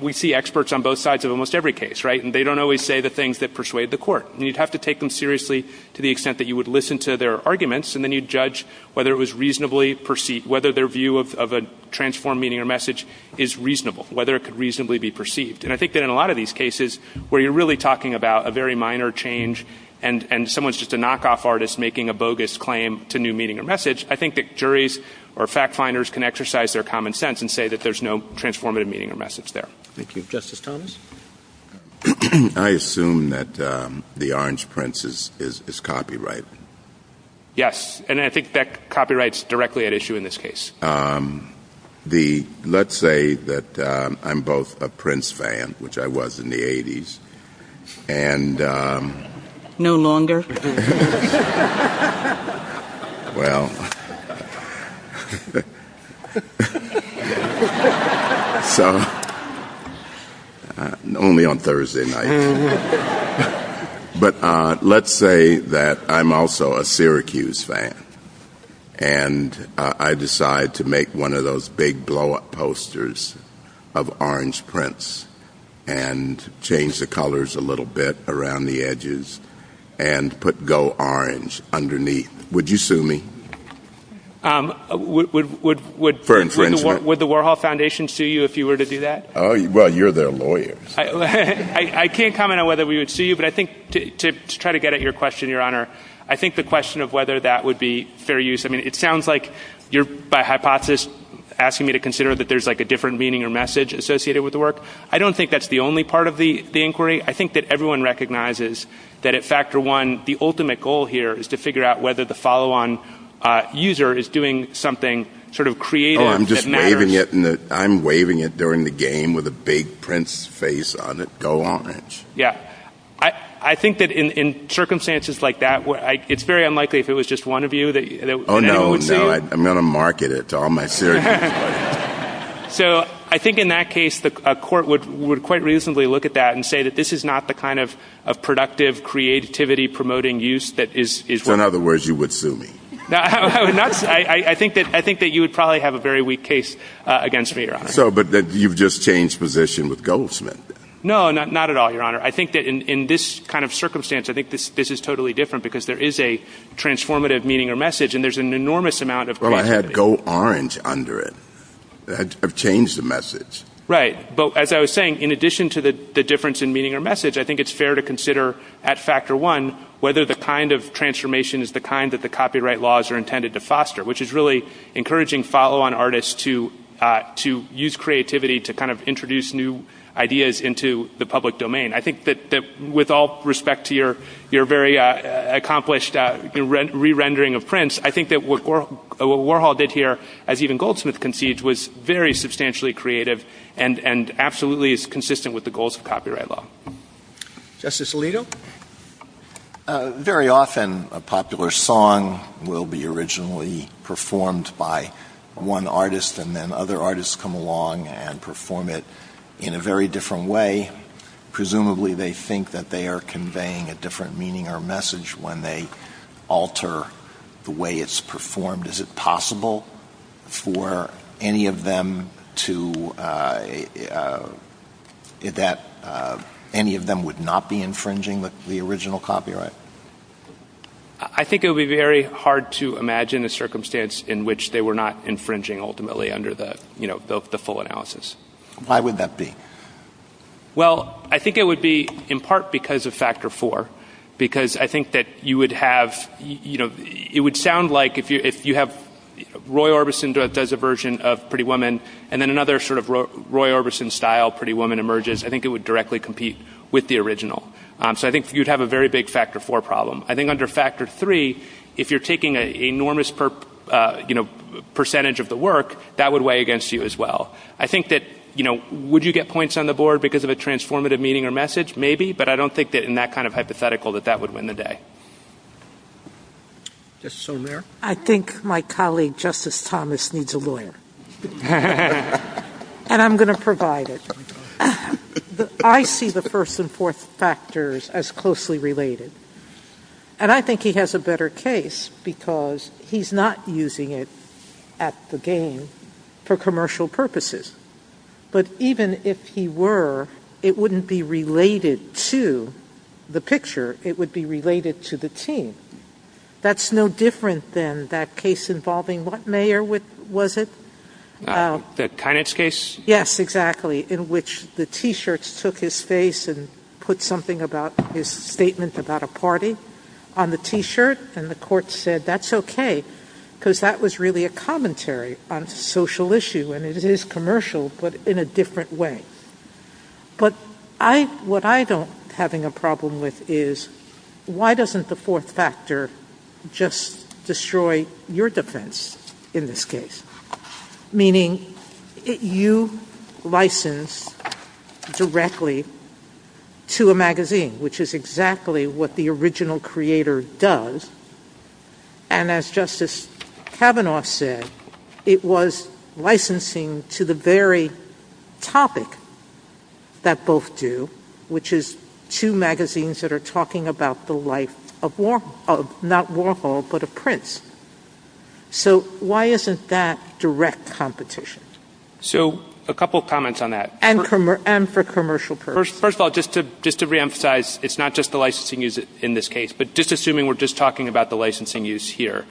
we see experts on both sides of almost every case, right? And they don't always say the things that persuade the court. And you'd have to take them seriously to the extent that you would listen to their arguments, and then you'd judge whether it was reasonably perceived, whether their view of a transformed meaning or message is reasonable, whether it could reasonably be perceived. And I think that in a lot of these cases where you're really talking about a very minor change and someone's just a knockoff artist making a bogus claim to new meaning or message, I think that juries or fact finders can exercise their common sense and say that there's no transformative meaning or message there. Thank you. Justice Thomas? I assume that the orange prince is copyright. Yes. And I think that copyright's directly at issue in this case. Let's say that I'm both a Prince fan, which I was in the 80s. No longer. Well, only on Thursday night. But let's say that I'm also a Syracuse fan, and I decide to make one of those big blow-up posters of orange prints and change the colors a little bit around the edges and put go orange underneath. Would you sue me? Would the Warhol Foundation sue you if you were to do that? Well, you're their lawyer. I can't comment on whether we would sue you, but I think to try to get at your question, Your Honor, I think the question of whether that would be fair use. I mean, it sounds like you're by hypothesis asking me to consider that there's like a different meaning or message associated with the work. I don't think that's the only part of the inquiry. I think that everyone recognizes that at factor one, the ultimate goal here is to figure out whether the follow-on user is doing something sort of creative. I'm just waving it. I'm waving it during the game with a big prince's face on it. Go orange. Yeah. I think that in circumstances like that, it's very unlikely if it was just one of you. Oh, no, no. I'm not a marketer to all my Syracuse buddies. So I think in that case, the court would quite reasonably look at that and say that this is not the kind of productive creativity promoting use that is— In other words, you would sue me. No, I think that you would probably have a very weak case against me, Your Honor. But you've just changed position with Goldsmith. No, not at all, Your Honor. I think that in this kind of circumstance, I think this is totally different because there is a transformative meaning or message, and there's an enormous amount of— Well, I have go orange under it. I've changed the message. Right. But as I was saying, in addition to the difference in meaning or message, I think it's fair to consider at factor one whether the kind of transformation is the kind that the copyright laws are intended to foster, which is really encouraging follow-on artists to use creativity to kind of introduce new ideas into the public domain. I think that with all respect to your very accomplished re-rendering of prints, I think that what Warhol did here, as even Goldsmith conceived, was very substantially creative and absolutely is consistent with the goals of copyright law. Justice Alito? Very often, a popular song will be originally performed by one artist, and then other artists come along and perform it in a very different way. Presumably, they think that they are conveying a different meaning or message when they alter the way it's performed. Is it possible that any of them would not be infringing the original copyright? I think it would be very hard to imagine a circumstance in which they were not infringing ultimately under the full analysis. Why would that be? Well, I think it would be in part because of factor four, because I think that you would have—it would sound like if you have Roy Orbison does a version of Pretty Woman, and then another sort of Roy Orbison-style Pretty Woman emerges, I think it would directly compete with the original. So I think you'd have a very big factor four problem. I think under factor three, if you're taking an enormous percentage of the work, that would weigh against you as well. I think that, you know, would you get points on the board because of a transformative meaning or message? Maybe, but I don't think that in that kind of hypothetical that that would win the day. Justice O'Leary? I think my colleague, Justice Thomas, needs a lawyer, and I'm going to provide it. But I see the first and fourth factors as closely related, and I think he has a better case because he's not using it at the game for commercial purposes. But even if he were, it wouldn't be related to the picture. It would be related to the team. That's no different than that case involving what mayor was it? The Kainitz case? Yes, exactly, in which the T-shirts took his face and put something about his statement about a party on the T-shirt, and the court said that's okay because that was really a commentary on social issue, and it is commercial but in a different way. But what I don't having a problem with is, why doesn't the fourth factor just destroy your defense in this case? Meaning, you license directly to a magazine, which is exactly what the original creator does, and as Justice Kavanaugh said, it was licensing to the very topic that both do, which is two magazines that are talking about the life of not Warhol, but a prince. So, why isn't that direct competition? So, a couple comments on that. And for commercial purposes. First of all, just to reemphasize, it's not just the licensing use in this case, but just assuming we're just talking about the licensing use here.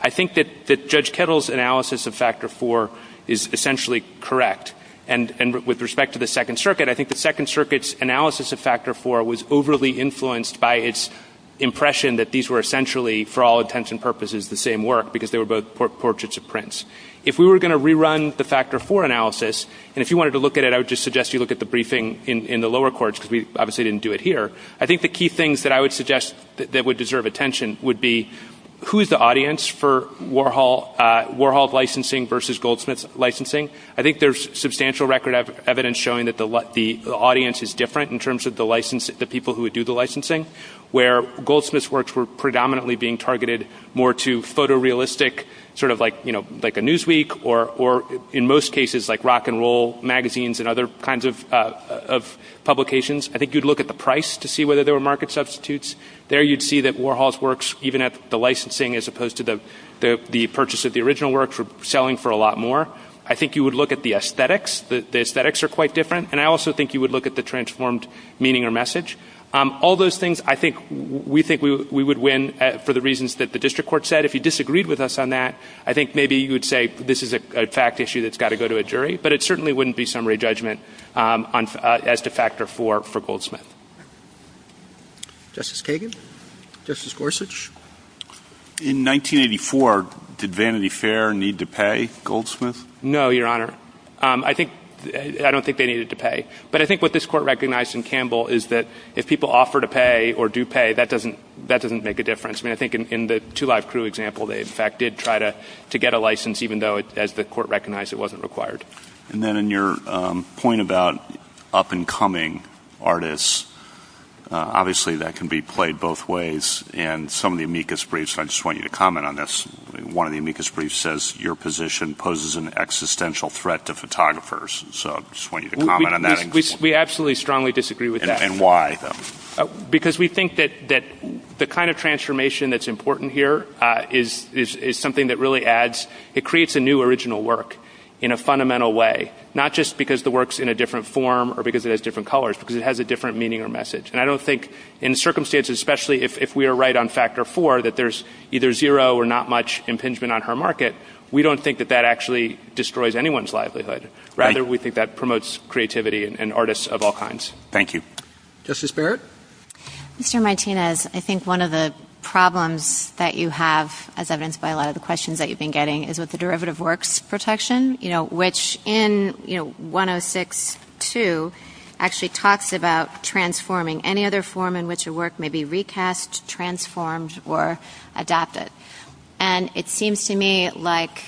I think that Judge Kettle's analysis of factor four is essentially correct, and with respect to the Second Circuit, I think the Second Circuit's analysis of factor four was overly influenced by its impression that these were essentially, for all intents and purposes, the same work, because they were both portraits of prince. If we were going to rerun the factor four analysis, and if you wanted to look at it, I would just suggest you look at the briefing in the lower courts, because we obviously didn't do it here. I think the key things that I would suggest that would deserve attention would be, who is the audience for Warhol's licensing versus Goldsmith's licensing? I think there's substantial record of evidence showing that the audience is different in the people who would do the licensing, where Goldsmith's works were predominantly being targeted more to photorealistic, sort of like a Newsweek, or in most cases, like rock and roll magazines and other kinds of publications. I think you'd look at the price to see whether there were market substitutes. There you'd see that Warhol's works, even at the licensing as opposed to the purchase of the original works, were selling for a lot more. I think you would look at the aesthetics. The aesthetics are quite different. And I think you would look at the transformed meaning or message. All those things, I think, we think we would win for the reasons that the district court said. If you disagreed with us on that, I think maybe you would say, this is a fact issue that's got to go to a jury. But it certainly wouldn't be summary judgment as to factor four for Goldsmith. Justice Kagan? Justice Gorsuch? In 1984, did Vanity Fair need to pay Goldsmith? No, Your Honor. I don't think they needed to pay. But I think what this court recognized in Campbell is that if people offer to pay or do pay, that doesn't make a difference. I think in the Two Live Crew example, they, in fact, did try to get a license, even though, as the court recognized, it wasn't required. And then in your point about up-and-coming artists, obviously, that can be played both ways. And some of the amicus briefs, I just want you to comment on this. One of the amicus briefs says your position poses an existential threat to photographers. So I just want you to comment on that. We absolutely, strongly disagree with that. And why? Because we think that the kind of transformation that's important here is something that really adds, it creates a new original work in a fundamental way, not just because the work's in a different form or because it has different colors, because it has a different meaning or message. And I don't think in circumstances, especially if we are right on factor four, that there's either zero or not much impingement on her market, we don't think that that actually destroys anyone's livelihood. Rather, we think that promotes creativity in artists of all kinds. Thank you. Justice Barrett? Mr. Martinez, I think one of the problems that you have, as evidenced by a lot of the questions that you've been getting, is with the derivative works protection, which in 106-2 actually talks about transforming any other form in which a work may be recast, transformed, or adapted. And it seems to me like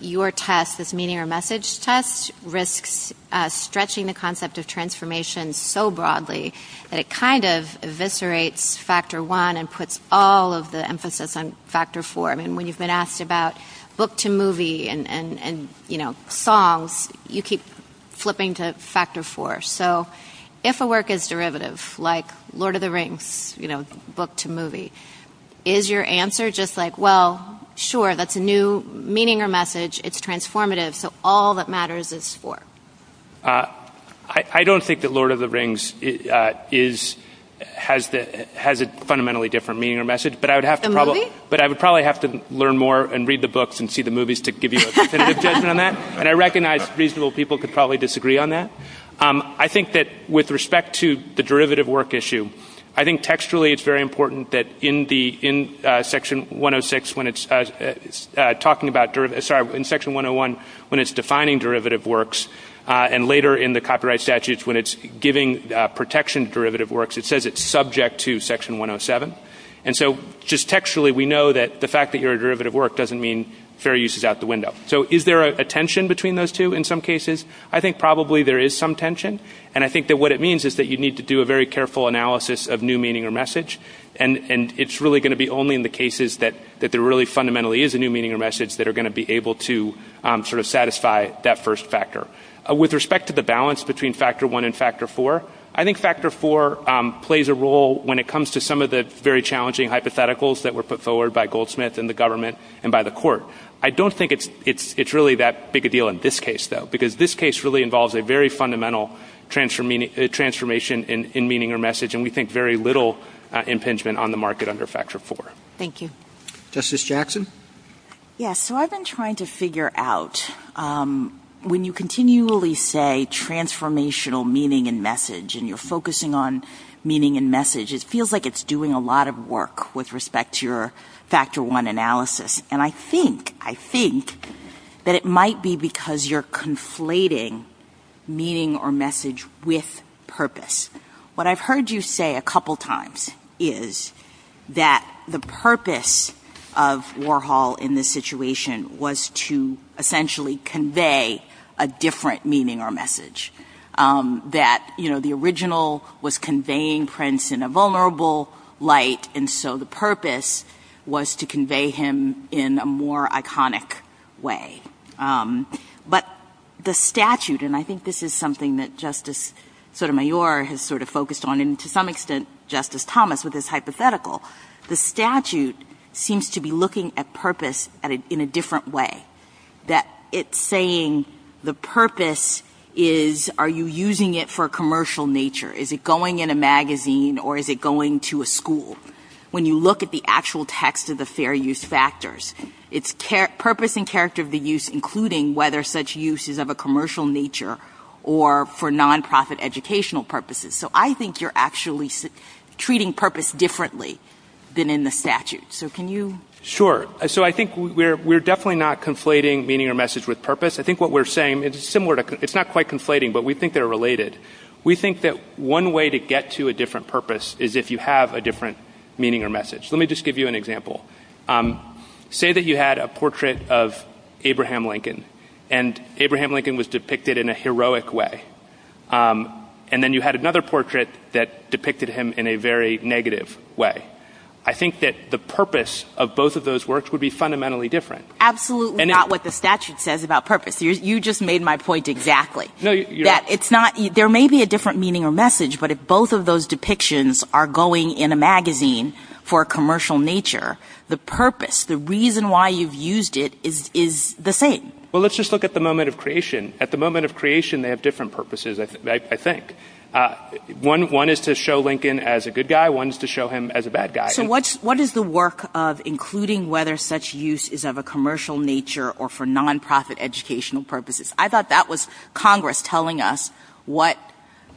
your test, this meaning or message test, risks stretching the concept of transformation so broadly that it kind of eviscerates factor one and puts all of the emphasis on factor four. I mean, when you've been asked about book to movie and songs, you keep flipping to factor four. So if a work is derivative, like Lord of the Rings, book to movie, is your answer just like, well, sure, that's a new meaning or message, it's transformative, so all that matters is four? I don't think that Lord of the Rings has a fundamentally different meaning or message, but I would probably have to learn more and read the books and see the movies to give you a definitive judgment on that. And I recognize reasonable people could probably disagree on that. I think that with respect to the derivative work issue, I think textually it's very important that in section 106, when it's talking about, sorry, in section 101, when it's defining derivative works, and later in the copyright statutes, when it's giving protection to derivative works, it says it's subject to section 107. And so just textually, we know that the fact that you're a derivative work doesn't mean fair use is out the window. So is there a tension between those two in some cases? I think probably there is some tension. And I think that what it means is that you need to do a very careful analysis of new meaning or message. And it's really going to be only in the cases that there really fundamentally is a new meaning or message that are going to be able to sort of satisfy that first factor. With respect to the balance between factor one and factor four, I think factor four plays a role when it comes to some of the very challenging hypotheticals that were put forward by Goldsmith and the government and by the court. I don't think it's really that big a deal in this case, though, because this case really involves a very fundamental transformation in meaning or message, and we think very little impingement on the market under factor four. Thank you. Justice Jackson? Yeah, so I've been trying to figure out, when you continually say transformational meaning and message, and you're focusing on meaning and message, it feels like it's doing a lot of work with respect to your factor one analysis. And I think, I think that it might be because you're conflating meaning or message with purpose. What I've heard you say a couple times is that the purpose of Warhol in this situation was to essentially convey a different meaning or message. That, you know, the original was in a more iconic way. But the statute, and I think this is something that Justice Sotomayor has sort of focused on, and to some extent Justice Thomas with this hypothetical, the statute seems to be looking at purpose in a different way. That it's saying the purpose is, are you using it for a commercial nature? Is it going in a magazine or is it going to a school? When you look at the actual text of the fair use factors, it's purpose and character of the use, including whether such use is of a commercial nature or for non-profit educational purposes. So I think you're actually treating purpose differently than in the statute. So can you? Sure. So I think we're definitely not conflating meaning or message with purpose. I think what we're saying is similar to, it's not quite conflating, but we think they're related. We think that one way to get to a different purpose is if you have a different meaning or message. Let me just give you an example. Say that you had a portrait of Abraham Lincoln, and Abraham Lincoln was depicted in a heroic way. And then you had another portrait that depicted him in a very negative way. I think that the purpose of both of those works would be fundamentally different. Absolutely not what the statute says about purpose. You just made my point exactly. There may be a different meaning or message, but if both of those depictions are going in a magazine for a commercial nature, the purpose, the reason why you've used it is the same. Well, let's just look at the moment of creation. At the moment of creation, they have different purposes, I think. One is to show Lincoln as a good guy. One is to show him as a bad guy. So what is the work of including whether such use is of a commercial nature or for non-profit educational purposes? I thought that was Congress telling us what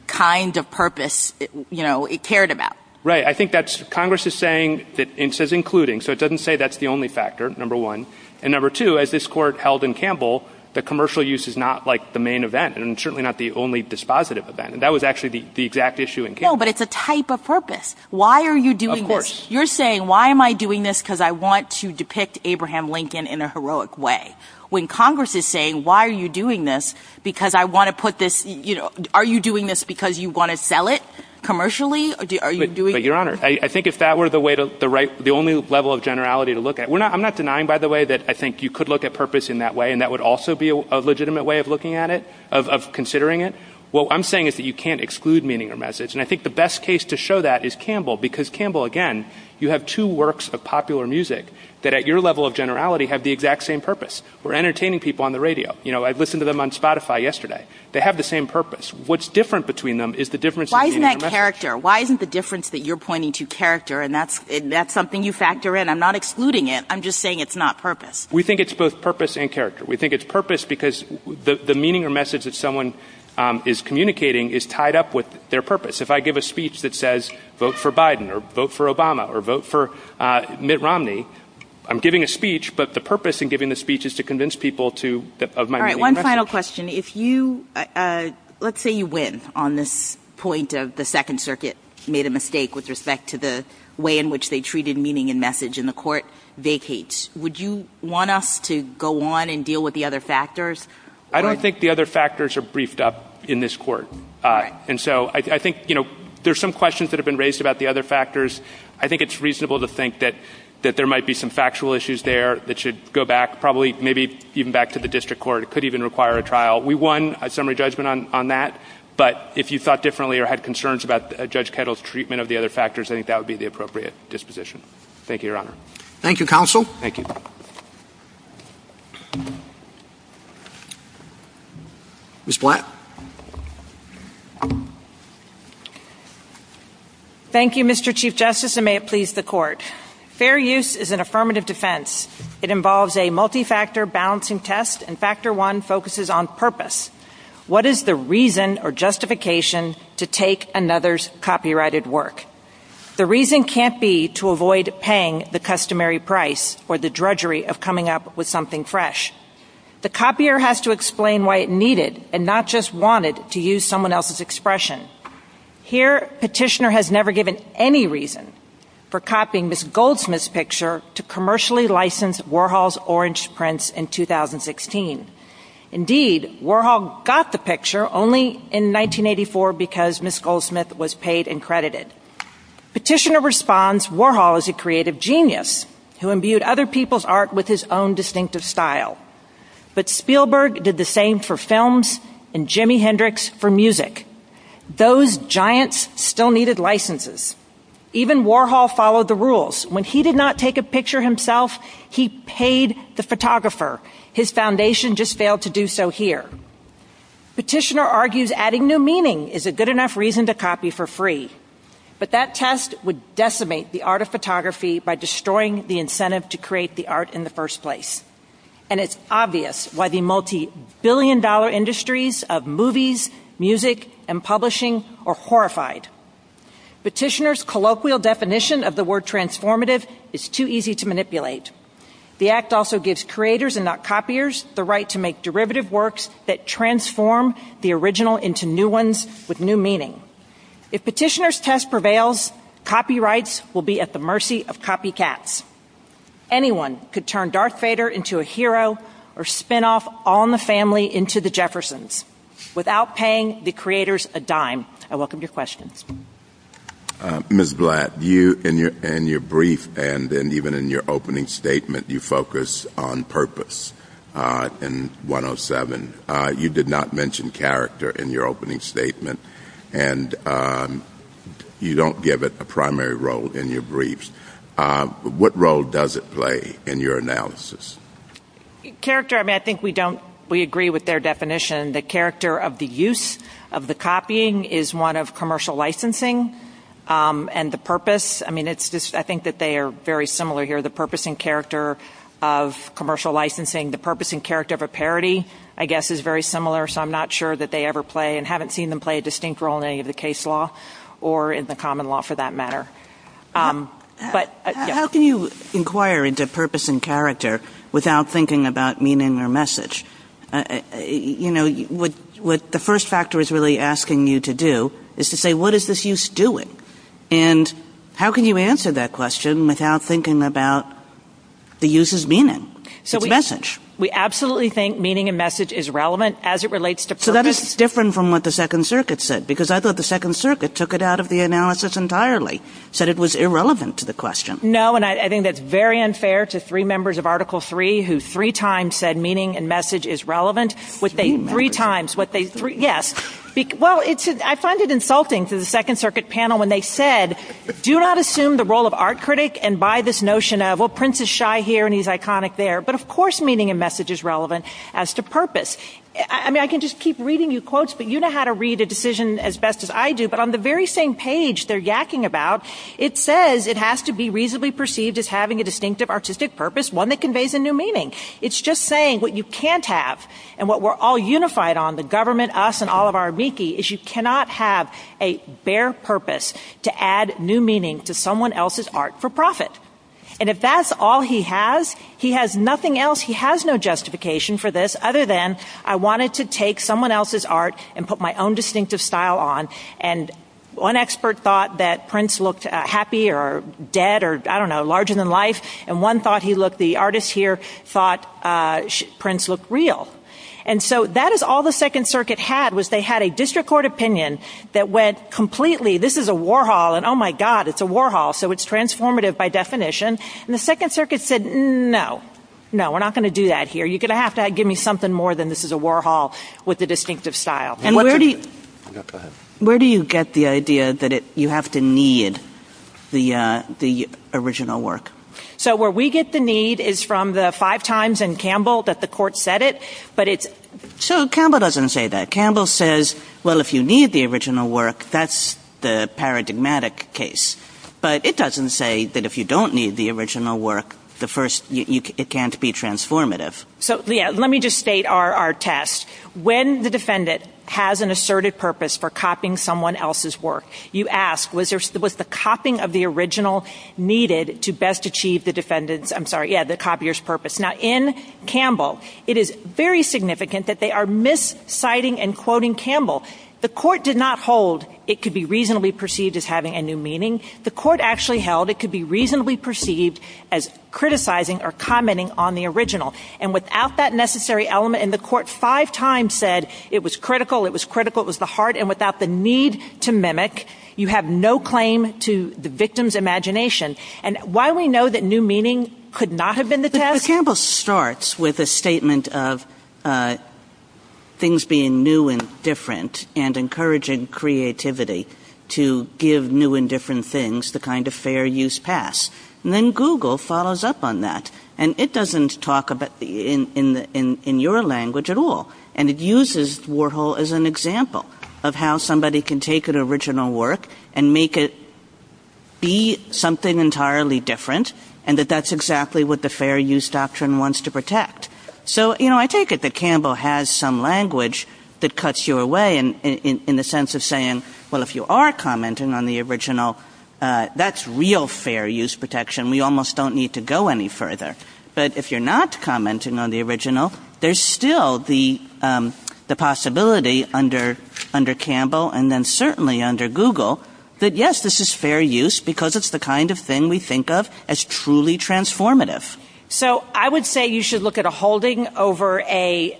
kind of purpose it cared about. Right. I think Congress is saying that it says including, so it doesn't say that's the only factor, number one. And number two, as this court held in Campbell, the commercial use is not the main event and certainly not the only dispositive event. That was actually the exact issue in Campbell. No, but it's a type of purpose. Why are you doing this? Of course. You're saying, why am I doing this? Because I want to depict Abraham Lincoln in a heroic way. When Congress is saying, why are you doing this? Because I want to put this, you know, are you doing this because you want to sell it commercially? Are you doing it? But your honor, I think if that were the way to the right, the only level of generality to look at, we're not, I'm not denying, by the way, that I think you could look at purpose in that way. And that would also be a legitimate way of looking at it, of considering it. Well, I'm saying is that you can't exclude meaning or message. And I think the best case to show that is Campbell, because Campbell, again, you have two works of popular music that at your level of generality have the exact same purpose. We're entertaining people on the radio. You know, I've listened to them on Spotify yesterday. They have the same purpose. What's different between them is the difference. Why is that character? Why isn't the difference that you're pointing to character? And that's, that's something you factor in. I'm not excluding it. I'm just saying it's not purpose. We think it's both purpose and character. We think it's purpose because the meaning or message that someone is communicating is tied up with their purpose. If I give a speech that says, vote for Biden or vote for Obama or vote for Mitt Romney, I'm giving a speech, but the purpose in giving the speech is to convince people to that. One final question. If you, let's say you win on this point of the second circuit, made a mistake with respect to the way in which they treated meaning and message in the court vacates. Would you want us to go on and deal with the other factors? I don't think the other factors are briefed up in this court. And so I think, you know, there's some questions that have been raised about the other factors. I think it's reasonable to think that, that there might be some factual issues there that should go back probably maybe even back to the district court. It could even require a trial. We won a summary judgment on, on that, but if you thought differently or had concerns about Judge Kettle's treatment of the other factors, I think that would be the appropriate disposition. Thank you, Your Honor. Thank you, Counsel. Thank you. Ms. Blatt. Thank you, Mr. Chief Justice, and may it please the court. Fair use is an affirmative defense. It involves a multi-factor balancing test, and factor one focuses on purpose. What is the reason or justification to take another's copyrighted work? The reason can't be to avoid paying the customary price or the drudgery of coming up with something fresh. The copier has to explain why it needed, and not just why it was needed, to use someone else's expression. Here, Petitioner has never given any reason for copying Ms. Goldsmith's picture to commercially license Warhol's orange prints in 2016. Indeed, Warhol got the picture only in 1984 because Ms. Goldsmith was paid and credited. Petitioner responds Warhol is a creative genius who imbued other people's art with his own for music. Those giants still needed licenses. Even Warhol followed the rules. When he did not take a picture himself, he paid the photographer. His foundation just failed to do so here. Petitioner argues adding new meaning is a good enough reason to copy for free. But that test would decimate the art of photography by destroying the incentive to create the art in the first place. And it's obvious why the multi-billion-dollar of movies, music, and publishing are horrified. Petitioner's colloquial definition of the word transformative is too easy to manipulate. The act also gives creators and not copiers the right to make derivative works that transform the original into new ones with new meaning. If Petitioner's test prevails, copyrights will be at the mercy of copycats. Anyone could turn Darth Vader into a hero or spinoff on the family into the Jeffersons without paying the creators a dime. I welcome your questions. Ms. Blatt, you in your brief and then even in your opening statement, you focus on purpose in 107. You did not mention character in your opening statement and you don't give it a primary role in your briefs. What role does it play in your analysis? Character, I mean, I think we agree with their definition. The character of the use of the copying is one of commercial licensing and the purpose. I mean, I think that they are very similar here. The purpose and character of commercial licensing, the purpose and character of a parody, I guess, is very similar. So I'm not sure that they ever play and haven't seen them play a distinct role in any of the case law or in the common law for that matter. But how can you inquire into purpose and character without thinking about meaning or message? You know, what the first factor is really asking you to do is to say, what is this use doing? And how can you answer that question without thinking about the use of meaning, the message? We absolutely think meaning and message is relevant as it relates to purpose. So that is different from what the Second Circuit said because I thought the Second Circuit took it out of the analysis entirely, said it was irrelevant to the question. No, and I think that's very unfair to three members of Article Three who three times said meaning and message is relevant. Three times. Yes. Well, I find it insulting to the Second Circuit panel when they said, do not assume the role of art critic and by this notion of, well, Prince is shy here and he's iconic there. But of course, meaning and message is relevant as to purpose. I mean, I can just keep reading you quotes, but you know how to read a decision as best as I do. But on the very same page they're yakking about, it says it has to be reasonably perceived as having a distinctive artistic purpose, one that conveys a new meaning. It's just saying what you can't have and what we're all unified on, the government, us, and all of our amici, is you cannot have a bare purpose to add new meaning to someone else's art for profit. And if that's all he has, he has nothing else. He has no justification for this other than I wanted to take someone else's art and put my own distinctive style on. And one expert thought that Prince looked happy or dead or, I don't know, larger than life. And one thought he looked, the artist here thought Prince looked real. And so that is all the Second Circuit had was they had a district court opinion that went completely, this is a war hall and, oh my God, it's a war hall. So it's transformative by definition. And the Second Circuit said, no, no, we're not going to do that here. You're going to have to give me something more than this is a war hall with a distinctive style. And where do you get the idea that you have to need the original work? So where we get the need is from the five times in Campbell that the court said it. But it's, so Campbell doesn't say that. Campbell says, well, if you need the original work, that's the paradigmatic case. But it doesn't say that if you don't need the original work, the first, it can't be transformative. So, yeah, let me just state our test. When the defendant has an asserted purpose for copying someone else's work, you ask, was there, was the copying of the original needed to best achieve the defendant's, I'm sorry, yeah, the copier's purpose. Now in Campbell, it is very significant that they are misciting and quoting Campbell. The court did not hold it could be reasonably perceived as having a new meaning. The court actually held it could be reasonably perceived as criticizing or commenting on the original. And without that necessary element in the court, five times said it was critical. It was critical. It was the heart. And without the need to mimic, you have no claim to the victim's imagination. And while we know that new meaning could not have been the Campbell starts with a statement of things being new and different and encouraging creativity to give new and different things the kind of fair use pass. And then Google follows up on that. And it doesn't talk about in your language at all. And it uses Warhol as an example of how somebody can take an original work and make it be something entirely different. And that that's exactly what the fair use doctrine wants to protect. So, you know, I take it that Campbell has some language that cuts you away in the sense of saying, well, if you are commenting on the original, that's real fair use protection. We almost don't need to go any further. But if you're not commenting on the original, there's still the possibility under Campbell and then certainly under Google that, yes, this is fair use because it's the kind of thing we think of as truly transformative. So I would say you should look at a holding over a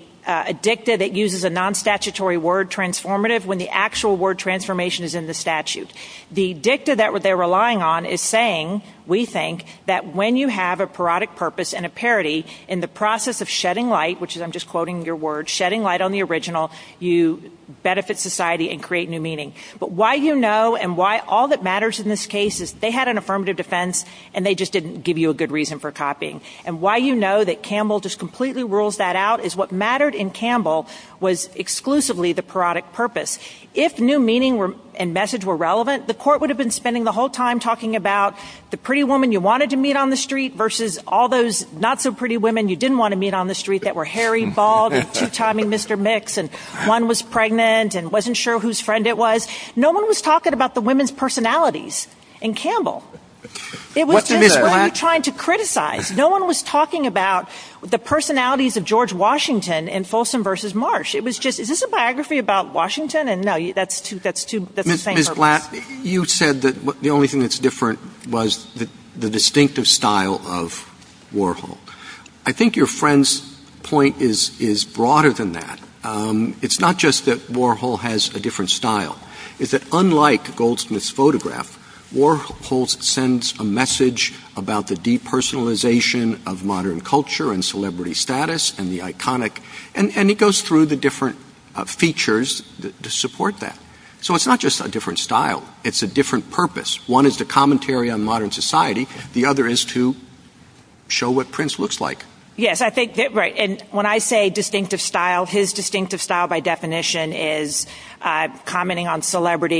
dicta that uses a non-statutory word transformative when the actual word transformation is in the statute. The dicta that they're relying on is saying, we think, that when you have a parodic purpose and a parody in the process of shedding light, which I'm just quoting your word, shedding light on the original, you benefit society and create new meaning. But why you know and why all that matters in this case is they had an affirmative defense and they just didn't give you a good reason for copying. And why you know that Campbell completely rules that out is what mattered in Campbell was exclusively the parodic purpose. If new meaning and message were relevant, the court would have been spending the whole time talking about the pretty woman you wanted to meet on the street versus all those not so pretty women you didn't want to meet on the street that were hairy, bald, two-timing Mr. Mix, and one was pregnant and wasn't sure whose friend it was. No one was talking about the women's personalities in Campbell. It was trying to criticize. No one was talking about the personalities of George Washington in Folsom versus Marsh. It was just, is this a biography about Washington? And no, that's two, that's the same. Ms. Latt, you said that the only thing that's different was the distinctive style of Warhol. I think your friend's point is broader than that. It's not just that Warhol has a different style. It's that unlike Goldsmith's photograph, Warhol sends a message about the depersonalization of modern culture and celebrity status and the iconic, and it goes through the different features to support that. So it's not just a different style. It's a different purpose. One is the commentary on modern society. The other is to show what Prince looks like. Yes, I think that's right. And when I say distinctive style, his distinctive style by celebrity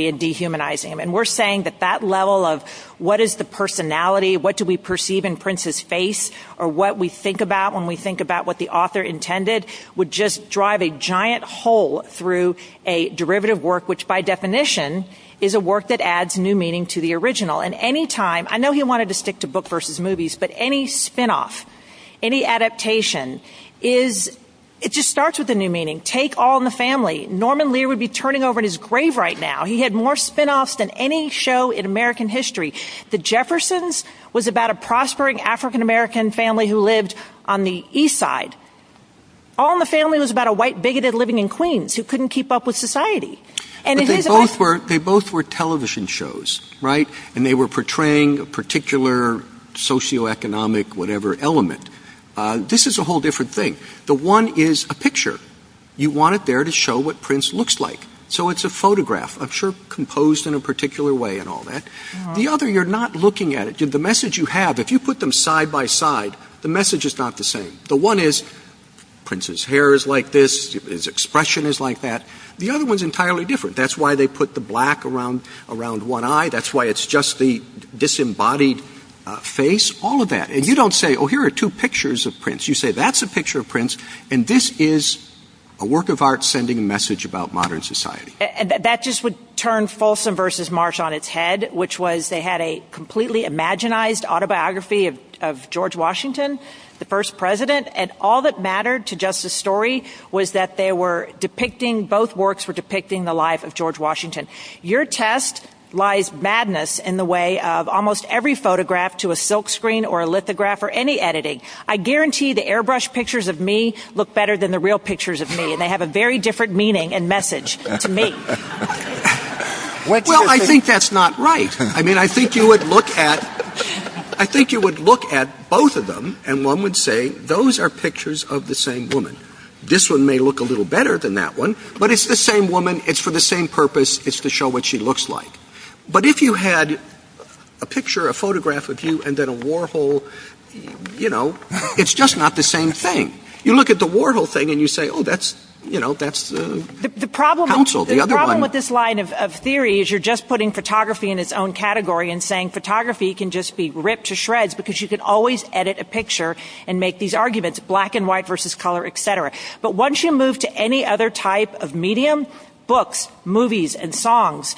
and dehumanizing him, and we're saying that that level of what is the personality, what do we perceive in Prince's face, or what we think about when we think about what the author intended would just drive a giant hole through a derivative work, which by definition is a work that adds new meaning to the original. And anytime, I know he wanted to stick to book versus movies, but any spinoff, any adaptation is, it just starts with a new meaning. Take All in the Family right now. He had more spinoffs than any show in American history. The Jeffersons was about a prospering African-American family who lived on the east side. All in the Family was about a white bigoted living in Queens who couldn't keep up with society. They both were television shows, right? And they were portraying a particular socioeconomic whatever element. This is a whole different thing. The one is a picture. You want it there to show what Prince looks like. So it's a I'm sure composed in a particular way and all that. The other, you're not looking at it. The message you have, if you put them side by side, the message is not the same. The one is Prince's hair is like this, his expression is like that. The other one's entirely different. That's why they put the black around one eye. That's why it's just the disembodied face, all of that. And you don't say, oh, here are two pictures of Prince. You say, that's a picture of Prince, and this is a work of art sending a message about modern society. And that just would turn Folsom versus Marsh on its head, which was they had a completely imaginized autobiography of George Washington, the first president, and all that mattered to just the story was that they were depicting both works for depicting the life of George Washington. Your test lies madness in the way of almost every photograph to a silk screen or a lithograph or any editing. I guarantee the airbrush pictures of me look better than the real pictures of me, and they have a very different meaning and message to me. Well, I think that's not right. I mean, I think you would look at, I think you would look at both of them, and one would say, those are pictures of the same woman. This one may look a little better than that one, but it's the same woman. It's for the same purpose. It's to show what she looks like. But if you had a picture, a photograph of you, and then Warhol, you know, it's just not the same thing. You look at the Warhol thing, and you say, oh, that's, you know, that's, the problem with this line of theory is you're just putting photography in its own category and saying photography can just be ripped to shreds, because you can always edit a picture and make these arguments, black and white versus color, etc. But once you move to any other type of medium, books, movies, and songs,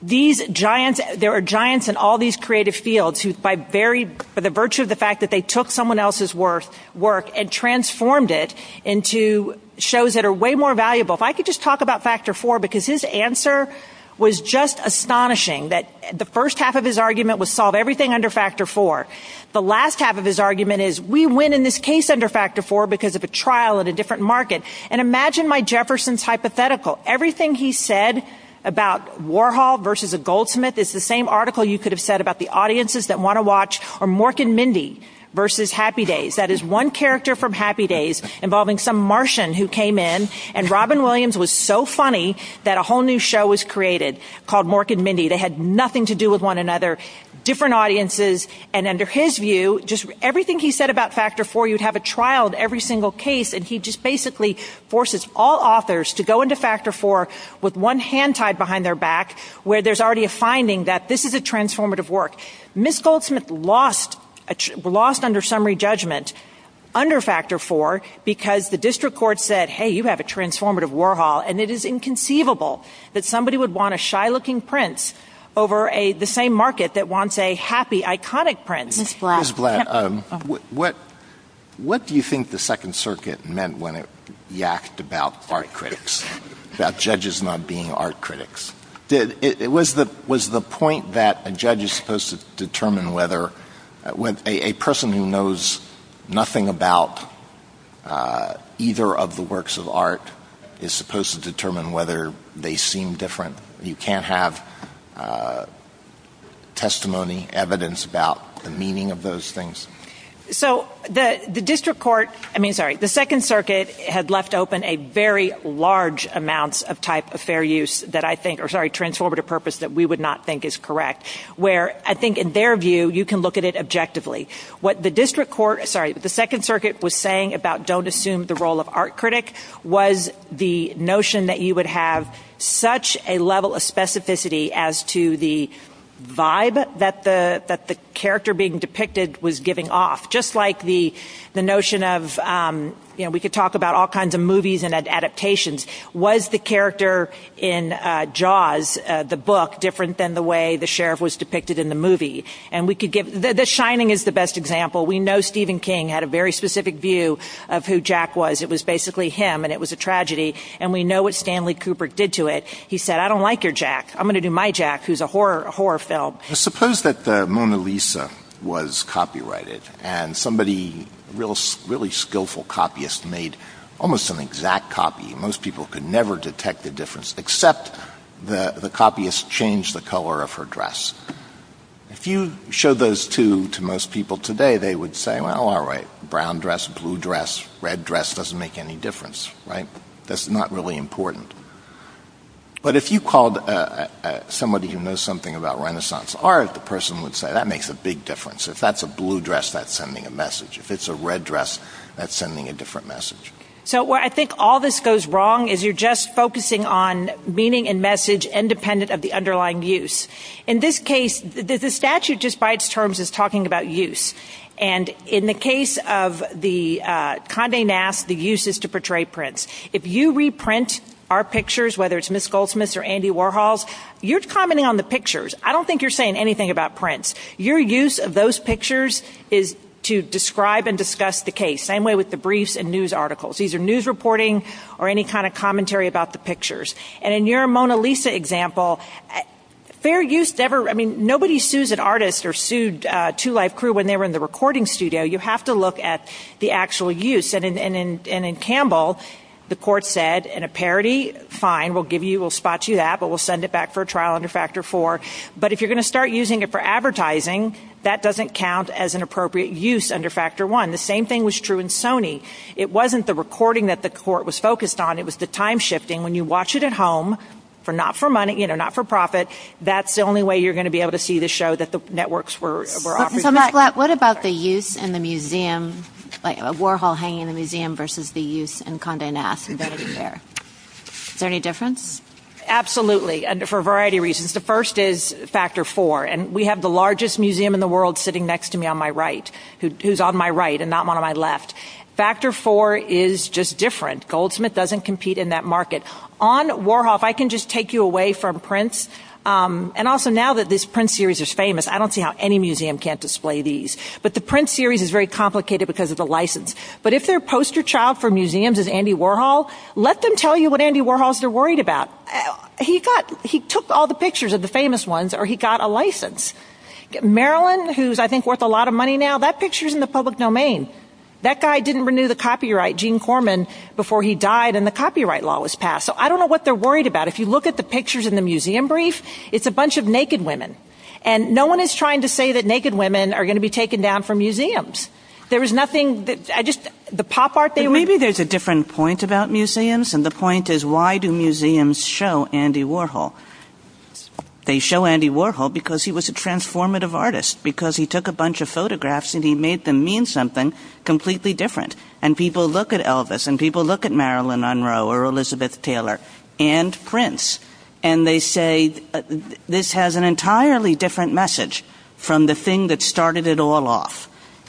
these giants, there are giants in all these creative fields who, by very, for the virtue of the fact that they took someone else's work and transformed it into shows that are way more valuable. If I could just talk about Factor 4, because his answer was just astonishing, that the first half of his argument was solve everything under Factor 4. The last half of his argument is, we win in this case under Factor 4 because of a trial at a different market. And imagine my Jefferson's hypothetical. Everything he said about Warhol versus a goldsmith is the same article you could have said about the audiences that want to watch, or Mork and Mindy versus Happy Days. That is one character from Happy Days involving some Martian who came in, and Robin Williams was so funny that a whole new show was created called Mork and Mindy. They had nothing to do with one another, different audiences, and under his view, just everything he said about Factor 4, you'd have a trial of every single case, and he just basically forces all authors to go into Factor 4 with one hand tied behind their back where there's already a finding that this is a transformative work. Miss Goldsmith lost under summary judgment under Factor 4 because the district court said, hey, you have a transformative Warhol, and it is inconceivable that somebody would want a shy-looking prince over the same prince. Miss Blatt, what do you think the Second Circuit meant when it yacked about art critics, that judges not being art critics? Was the point that a judge is supposed to determine whether a person who knows nothing about either of the works of art is supposed to determine whether they seem different? You can't have testimony, evidence about the meaning of those things? So the district court, I mean, sorry, the Second Circuit had left open a very large amount of type of fair use that I think, or sorry, transformative purpose that we would not think is correct, where I think in their view, you can look at it objectively. What the district court, sorry, the Second Circuit was saying about don't assume the role of art critic was the notion that you would have such a level of specificity as to the vibe that the character being depicted was giving off, just like the notion of, you know, we could talk about all kinds of movies and adaptations. Was the character in Jaws, the book, different than the way the sheriff was depicted in the movie? And we could give, The Shining is the best example. We know Stephen King had a very Cooper did to it. He said, I don't like your Jack. I'm going to do my Jack, who's a horror film. Suppose that the Mona Lisa was copyrighted, and somebody really skillful copyist made almost an exact copy. Most people could never detect the difference, except the copyist changed the color of her dress. If you show those two to most people today, they would say, well, all right, brown dress, blue dress, red dress doesn't make any difference, right? That's not really important. But if you called somebody who knows something about Renaissance art, the person would say that makes a big difference. If that's a blue dress, that's sending a message. If it's a red dress, that's sending a different message. So what I think all this goes wrong is you're just focusing on meaning and message independent of the underlying use. In this case, the statute, just by its terms, is talking about use. And in the case of the Condé Nast, the use is to portray prints. If you reprint our pictures, whether it's Miss Goldsmith's or Andy Warhol's, you're commenting on the pictures. I don't think you're saying anything about prints. Your use of those pictures is to describe and discuss the case, same way with the briefs and news articles. These are news reporting or any kind of commentary about the pictures. And in your Mona Lisa example, fair use never, I mean, nobody sues an artist or sued Two Life Crew when they were in the recording studio. You have to look at the actual use. And in Campbell, the court said, in a parody, fine, we'll give you, we'll spot you that, but we'll send it back for a trial under Factor 4. But if you're going to start using it for advertising, that doesn't count as an appropriate use under Factor 1. The same thing was true in Sony. It wasn't the recording that the court was focused on, it was the time shifting. When you watch it at home, not for money, not for profit, that's the only way you're going to be able to see the show that the networks were offering. What about the use in the museum, Warhol hanging in the museum versus the use in Condé Nast? Is there any difference? Absolutely, for a variety of reasons. The first is Factor 4. And we have the largest museum in the world sitting next to me on my right, who's on my right and not one on my left. Factor 4 is just different. Goldsmith doesn't compete in that market. On Warhol, if I can just take you away from prints, and also now that this print series is famous, I don't see how any museum can't display these. But the print series is very complicated because of the license. But if their poster child for museums is Andy Warhol, let them tell you what Andy Warhol is worried about. He took all the pictures of the famous ones or he got a license. Marilyn, who's I think worth a lot of money now, that picture is in the public domain. That guy didn't renew the copyright, Gene Corman, before he died and the copyright law was passed. So I don't know what they're worried about. If you look at the pictures in the museum brief, it's a bunch of naked women. And no one is trying to say that naked women are going to be taken down from museums. There was nothing. I just the pop art. Maybe there's a different point about museums. And the point is, why do museums show Andy Warhol? They show Andy Warhol because he was a transformative artist because he took a bunch of photographs and he made them mean something completely different. And people look at Elvis and people look at Marilyn Monroe or Elizabeth Taylor and Prince and they say, this has an entirely different message from the thing that started it all off.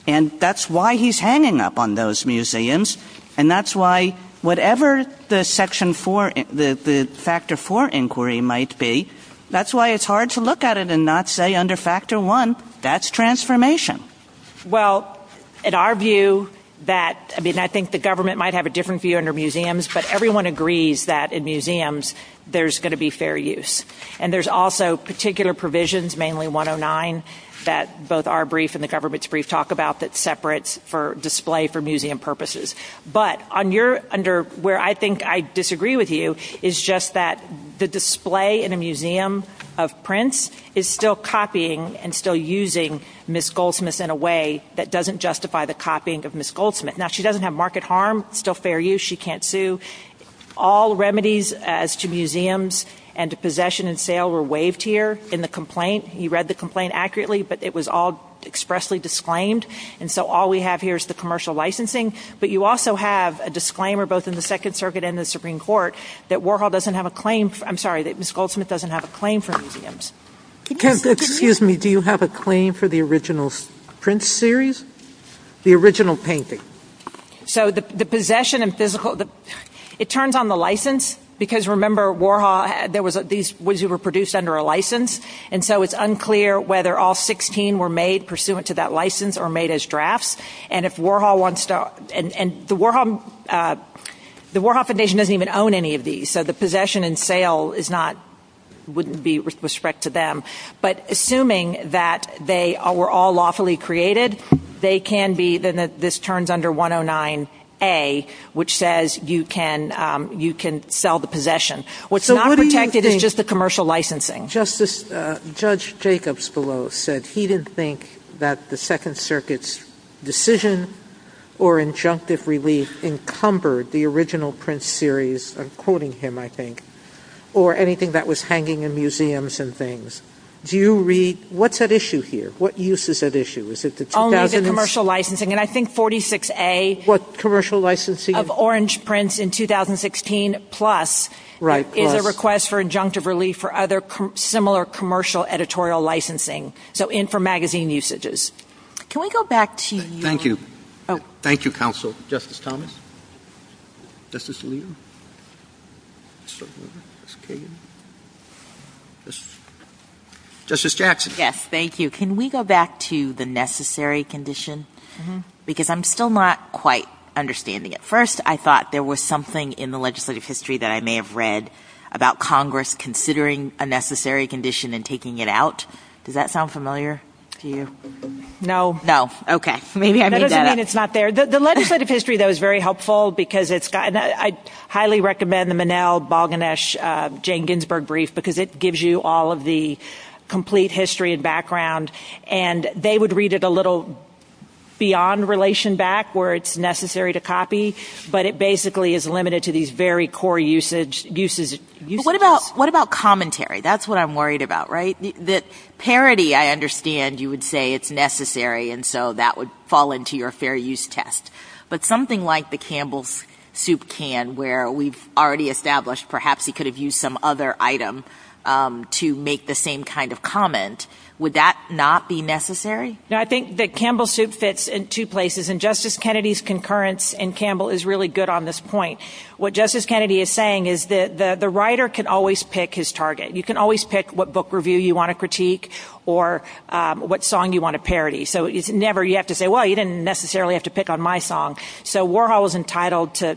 And that's why he's hanging up on those museums. And that's why whatever the Section 4, the Factor 4 inquiry might be, that's why it's hard to look at it and not say under Factor 1, that's transformation. Well, in our view that I mean, I think the government might have a different view under museums, but everyone agrees that in museums, there's going to be fair use. And there's also particular provisions, mainly 109, that both our brief and the government's brief talk about that separates for display for museum purposes. But where I think I disagree with you is just that the display in a museum of prints is still copying and still using Ms. Goldsmith in a way that doesn't justify the copying of Ms. Goldsmith. Now, she doesn't have market harm, still fair use, she can't sue. All remedies as to museums and to possession and sale were waived here in the complaint. He read the complaint accurately, but it was all expressly disclaimed. And so all we have here is the commercial licensing. But you also have a disclaimer, both in the Second Circuit and the Supreme Court, that Warhol doesn't have a claim for, I'm sorry, that Ms. Goldsmith doesn't have a claim for museums. Excuse me, do you have a claim for the original print series? The original painting? So the possession and physical, it turns on the license, because remember Warhol, there was, these were produced under a license. And so it's unclear whether all 16 were made pursuant to that license or made as drafts. And if Warhol wants to, and the Warhol Foundation doesn't even own any of these. So the possession and sale is not, wouldn't be with respect to them. But assuming that they were all lawfully created, they can be, then this turns under 109A, which says you can, you can sell the possession. What's not protected is just the commercial licensing. Justice, Judge Jacobs below said he didn't think that the Second Circuit's decision or injunctive relief encumbered the original print series, I'm quoting him, I think, or anything that was hanging in museums and things. Do you read, what's at issue here? What use is at issue? Is it the commercial licensing? And I think 46A. What commercial licensing? Of orange prints in 2016, plus the request for injunctive relief for other similar commercial editorial licensing. So in for magazine usages. Can we go back to you? Thank you. Thank you, Counsel. Justice Thomas. Justice Alito. Justice Jackson. Yes, thank you. Can we go back to the necessary condition? Because I'm still not quite understanding it. First, I thought there was something in the legislative history that I may have read about Congress considering a necessary condition and taking it out. Does that sound familiar to you? No. No. Okay. I mean, it's not there. The legislative history, though, is very helpful because it's got, I highly recommend the Monell, Balganesh, Jane Ginsburg brief, because it gives you all of the complete history and background. And they would read it a little beyond relation back where it's necessary to copy. But it basically is limited to these very core usage uses. What about what about commentary? That's what I'm worried about, right? That parity, I understand you would say it's necessary. And so that would fall into your fair use test. But something like the Campbell's Soup can where we've already established, perhaps he could have used some other item to make the same kind of comment. Would that not be necessary? I think that Campbell's Soup fits in two places. And Justice Kennedy's concurrence and Campbell is really good on this point. What Justice Kennedy is saying is that the writer can always pick his target. You can always pick what book review you want to critique or what song you want to parody. So you never you have to say, well, you didn't necessarily have to pick on my song. So Warhol was entitled to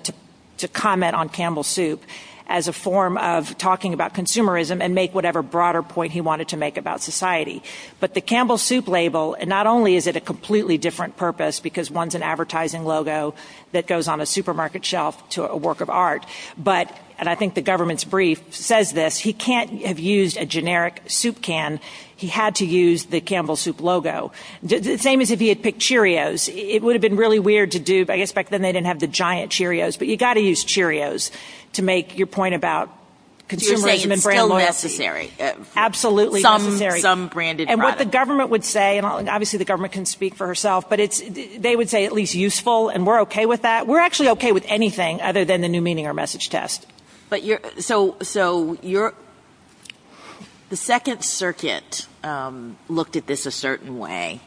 comment on Campbell's Soup as a form of talking about consumerism and make whatever broader point he wanted to make about society. But the Campbell's Soup label, and not only is it a completely different purpose, because one's an advertising logo that goes on a supermarket shelf to a work of art. But, and I think the government's brief says this, he can't have used a generic soup can. He had to use the Campbell's Soup logo. The same as if he had picked Cheerios. It would have been really weird to do. I guess back then they didn't have the giant Cheerios. But you've got to use Cheerios to make your point about consumerism and brand loyalty. It's still necessary. Absolutely necessary. Some branded product. And what the government would say, and obviously the government can speak for herself, but they would say at least useful and we're okay with that. We're actually okay with anything other than the new meaning or message test. But you're, so, so you're, the second circuit looked at this a certain way.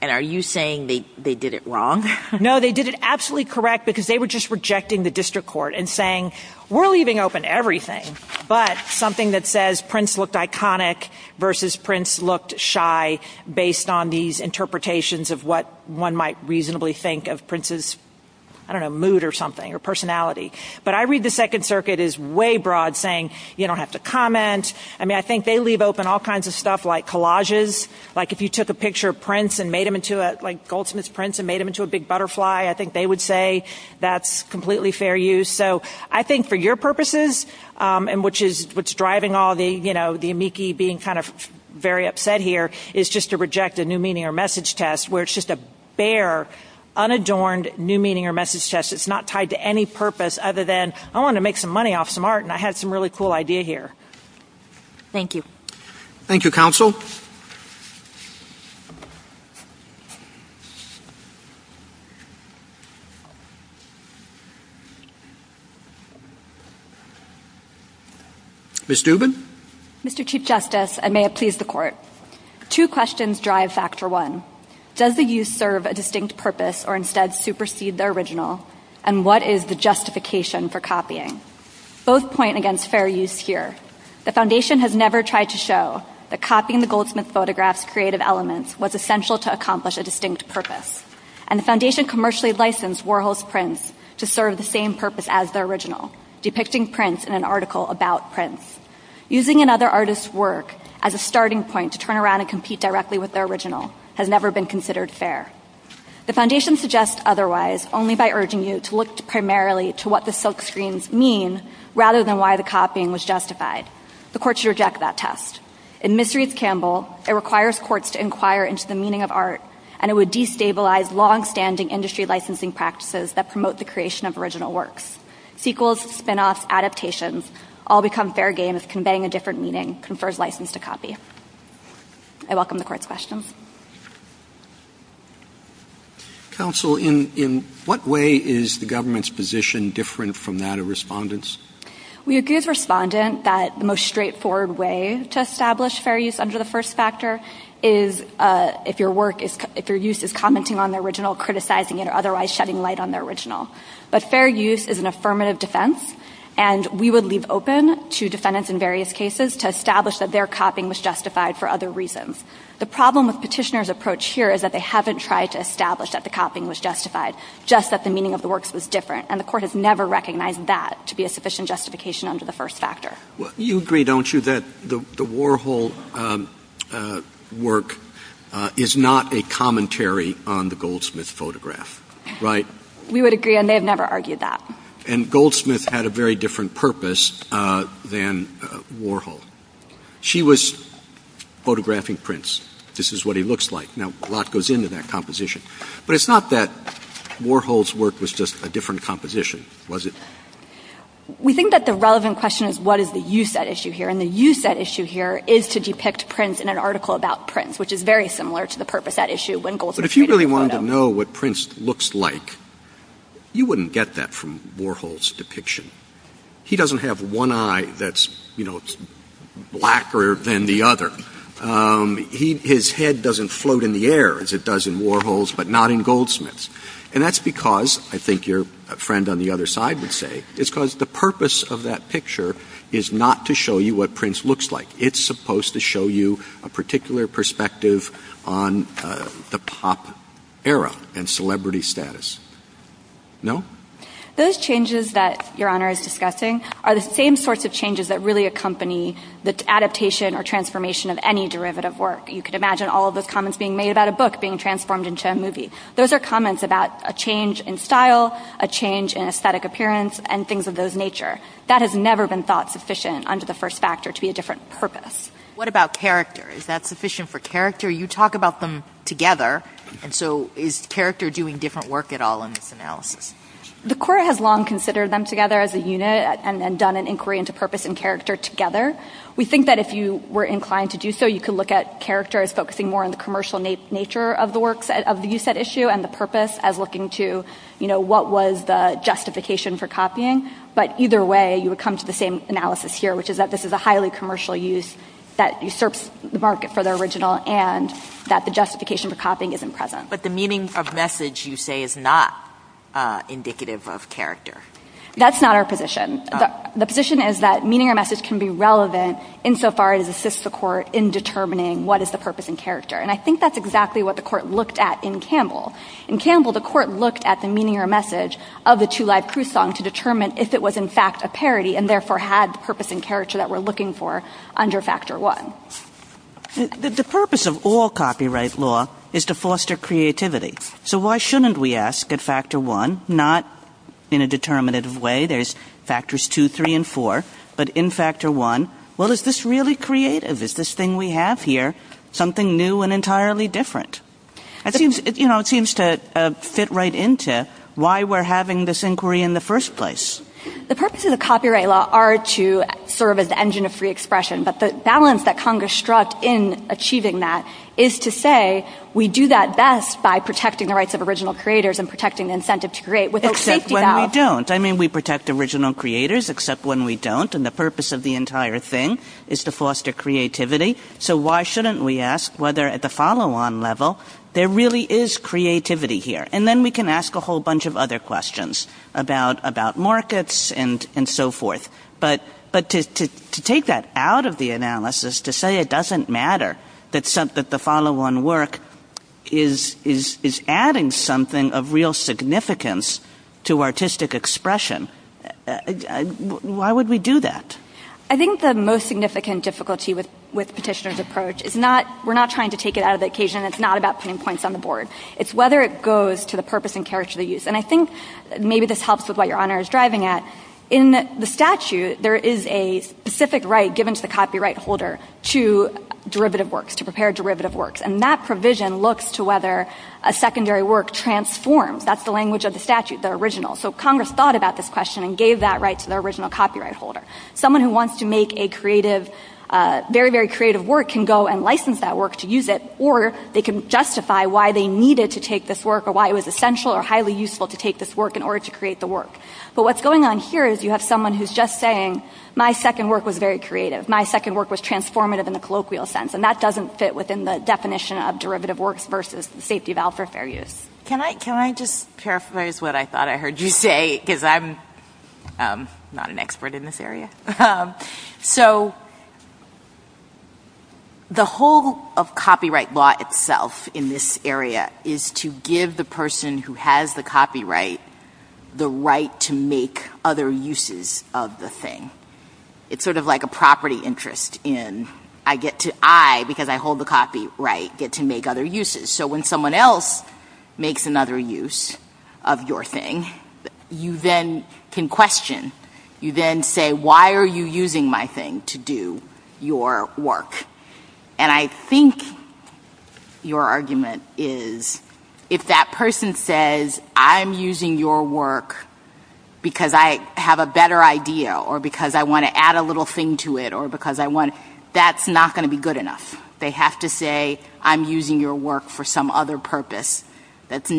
And are you saying they, they did it wrong? No, they did it absolutely correct because they were just rejecting the district court and saying, we're leaving open everything. But something that says Prince looked iconic versus Prince looked shy based on these interpretations of what one might reasonably think of Prince's, I don't know, mood or something or personality. But I read the second circuit is way broad saying you don't have to comment. I mean, I think they leave open all kinds of stuff like collages. Like if you took a picture of Prince and made him into a, like Goldsmith's Prince and made him into a big butterfly, I think they would say that's completely fair use. So I think for your purposes and which is what's driving all the, you know, the amici being kind of very upset here is just to reject a new meaning or message test where it's just a bare unadorned new meaning or message test. It's not tied to any purpose other than I want to make some money off some art and I had some really cool idea here. Thank you. Thank you, counsel. Ms. Dubin. Mr. Chief Justice, and may it please the court. Two questions drive factor one. Does the use serve a distinct purpose or instead supersede the original? And what is the justification for copying? Both point against fair use here. The foundation has never tried to show that copying the Goldsmith's photograph's creative elements was essential to accomplish a distinct purpose. And the foundation commercially licensed Warhol's Prince to serve the same purpose as the original, depicting Prince in an article about Prince. Using another artist's work as a starting point to turn around and compete directly with their original has never been considered fair. The foundation suggests otherwise only by urging you to look primarily to what the silkscreens mean rather than why the copying was justified. The courts reject that test. In Misery's Campbell, it requires courts to inquire into the meaning of art and it would destabilize longstanding industry licensing practices that promote the creation of original works. Sequels, spin-offs, adaptations all become fair game as conveying a different meaning confers license to copy. I welcome the court's questions. Counsel, in what way is the government's position different from that of respondents? We agree with respondent that the most straightforward way to establish fair use under the first factor is if your work is, if your use is commenting on the original, criticizing it or otherwise shedding light on the original. But fair use is an affirmative defense and we would leave open to defendants in various cases to establish that their copying was justified for other reasons. The problem with petitioner's approach here is that they haven't tried to establish that the copying was justified, just that the meaning of the works is different and the court has never recognized that to be a sufficient justification under the first factor. You agree, don't you, that the Warhol work is not a commentary on the Goldsmith photograph, right? We would agree and they've never argued that. And Goldsmith had a very different purpose than Warhol. She was photographing prints. This is what he looks like. Now, a lot goes into that composition. But it's not that Warhol's work was just a different composition, was it? We think that the relevant question is what is the use at issue here and the use at issue here is to depict prints in an article about prints, which is very similar to the purpose at issue. But if you really wanted to know what prints looks like, you wouldn't get that from Warhol's depiction. He doesn't have one eye that's blacker than the other. His head doesn't float in the air as it does in Warhol's but not in Goldsmith's. And that's because, I think your friend on the other side would say, it's because the purpose of that picture is not to show you what prints looks like. It's supposed to show you a particular perspective on the pop era and celebrity status. No? Those changes that your honor is discussing are the same sorts of changes that really accompany the adaptation or transformation of any derivative work. You can imagine all of those comments being made about a book being transformed into a movie. Those are comments about a change in style, a change in aesthetic appearance, and things of those nature. That has never been thought sufficient under the first factor to be a different purpose. What about character? Is that sufficient for character? You talk about them together, and so is character doing different work at all in this analysis? The court has long considered them together as a unit and then done an inquiry into purpose and character together. We think that if you were inclined to do so, you could look at character as focusing more on the commercial nature of the works of the use at issue and the purpose as what was the justification for copying. Either way, you would come to the same analysis here, which is that this is a highly commercial use that usurps the market for the original and that the justification for copying isn't present. But the meaning of message, you say, is not indicative of character. That's not our position. The position is that meaning of message can be relevant insofar as it assists the court in determining what is the purpose and character. I think that's exactly what the court looked at in Campbell. In Campbell, the court looked at the meaning or message of the two-line croissant to determine if it was in fact a parody and therefore had the purpose and character that we're looking for under factor one. The purpose of all copyright law is to foster creativity. So why shouldn't we ask at factor one, not in a determinative way, there's factors two, three, and four, but in factor one, well, is this really creative? Is this thing we have here something new and entirely different? I think it seems to fit right into why we're having this inquiry in the first place. The purpose of the copyright law are to serve as the engine of free expression, but the balance that Congress struck in achieving that is to say we do that best by protecting the rights of original creators and protecting incentive to create without safety. Except when we don't. I mean, we protect original creators, except when we don't. And the purpose of the entire thing is to foster creativity. So why shouldn't we ask whether at the follow-on level, there really is creativity here. And then we can ask a whole bunch of other questions about markets and so forth. But to take that out of the analysis, to say it doesn't matter that the follow-on work is adding something of real significance to artistic expression. Why would we do that? I think the most significant difficulty with petitioner's approach is not, we're not trying to take it out of the occasion. It's not about putting points on the board. It's whether it goes to the purpose and character of the use. And I think maybe this helps with what your honor is driving at. In the statute, there is a specific right given to the copyright holder to derivative work, to prepare derivative work. And that Congress thought about this question and gave that right to the original copyright holder. Someone who wants to make a very, very creative work can go and license that work to use it, or they can justify why they needed to take this work or why it was essential or highly useful to take this work in order to create the work. But what's going on here is you have someone who's just saying, my second work was very creative. My second work was transformative in the colloquial sense. And that doesn't fit within the definition of derivative works versus safety vows or fair use. Can I just paraphrase what I thought I heard you say? Because I'm not an expert in this area. So the whole of copyright law itself in this area is to give the person who has the copyright the right to make other uses of the thing. It's sort of like a property interest in, I get to, I, because I hold the copyright, get to make other uses. So when someone else makes another use of your thing, you then can question, you then say, why are you using my thing to do your work? And I think your argument is, if that person says, I'm using your work because I have a better idea or because I want to add a little thing to it or that's not going to be good enough. They have to say, I'm using your work for some other purpose that's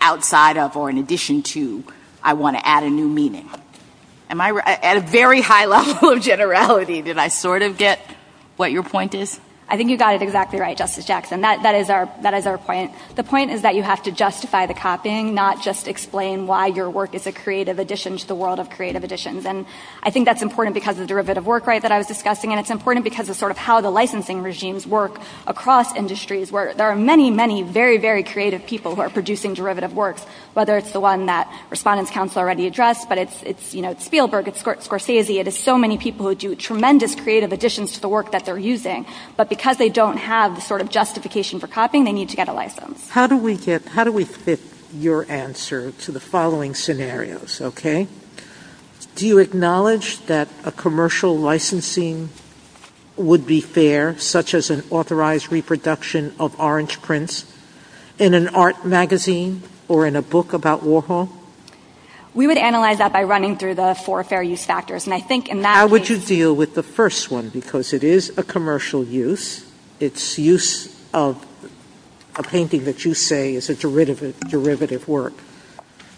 outside of or in addition to, I want to add a new meaning. Am I, at a very high level of generality, did I sort of get what your point is? I think you got it exactly right, Justice Jackson. That is our point. The point is that you have to justify the copying, not just explain why your work is a creative addition to the world of licensing. And it's important because of sort of how the licensing regimes work across industries where there are many, many very, very creative people who are producing derivative works, whether it's the one that Respondents Council already addressed, but it's Spielberg, it's Scorsese. It is so many people who do tremendous creative additions to the work that they're using, but because they don't have the sort of justification for copying, they need to get a license. How do we fit your answer to the following scenarios? Okay. Do you acknowledge that a commercial licensing would be fair, such as an authorized reproduction of orange prints in an art magazine or in a book about Warhol? We would analyze that by running through the four fair use factors. And I think in that- How would you deal with the first one? Because it is a commercial use. It's use of a painting that you say is a derivative work.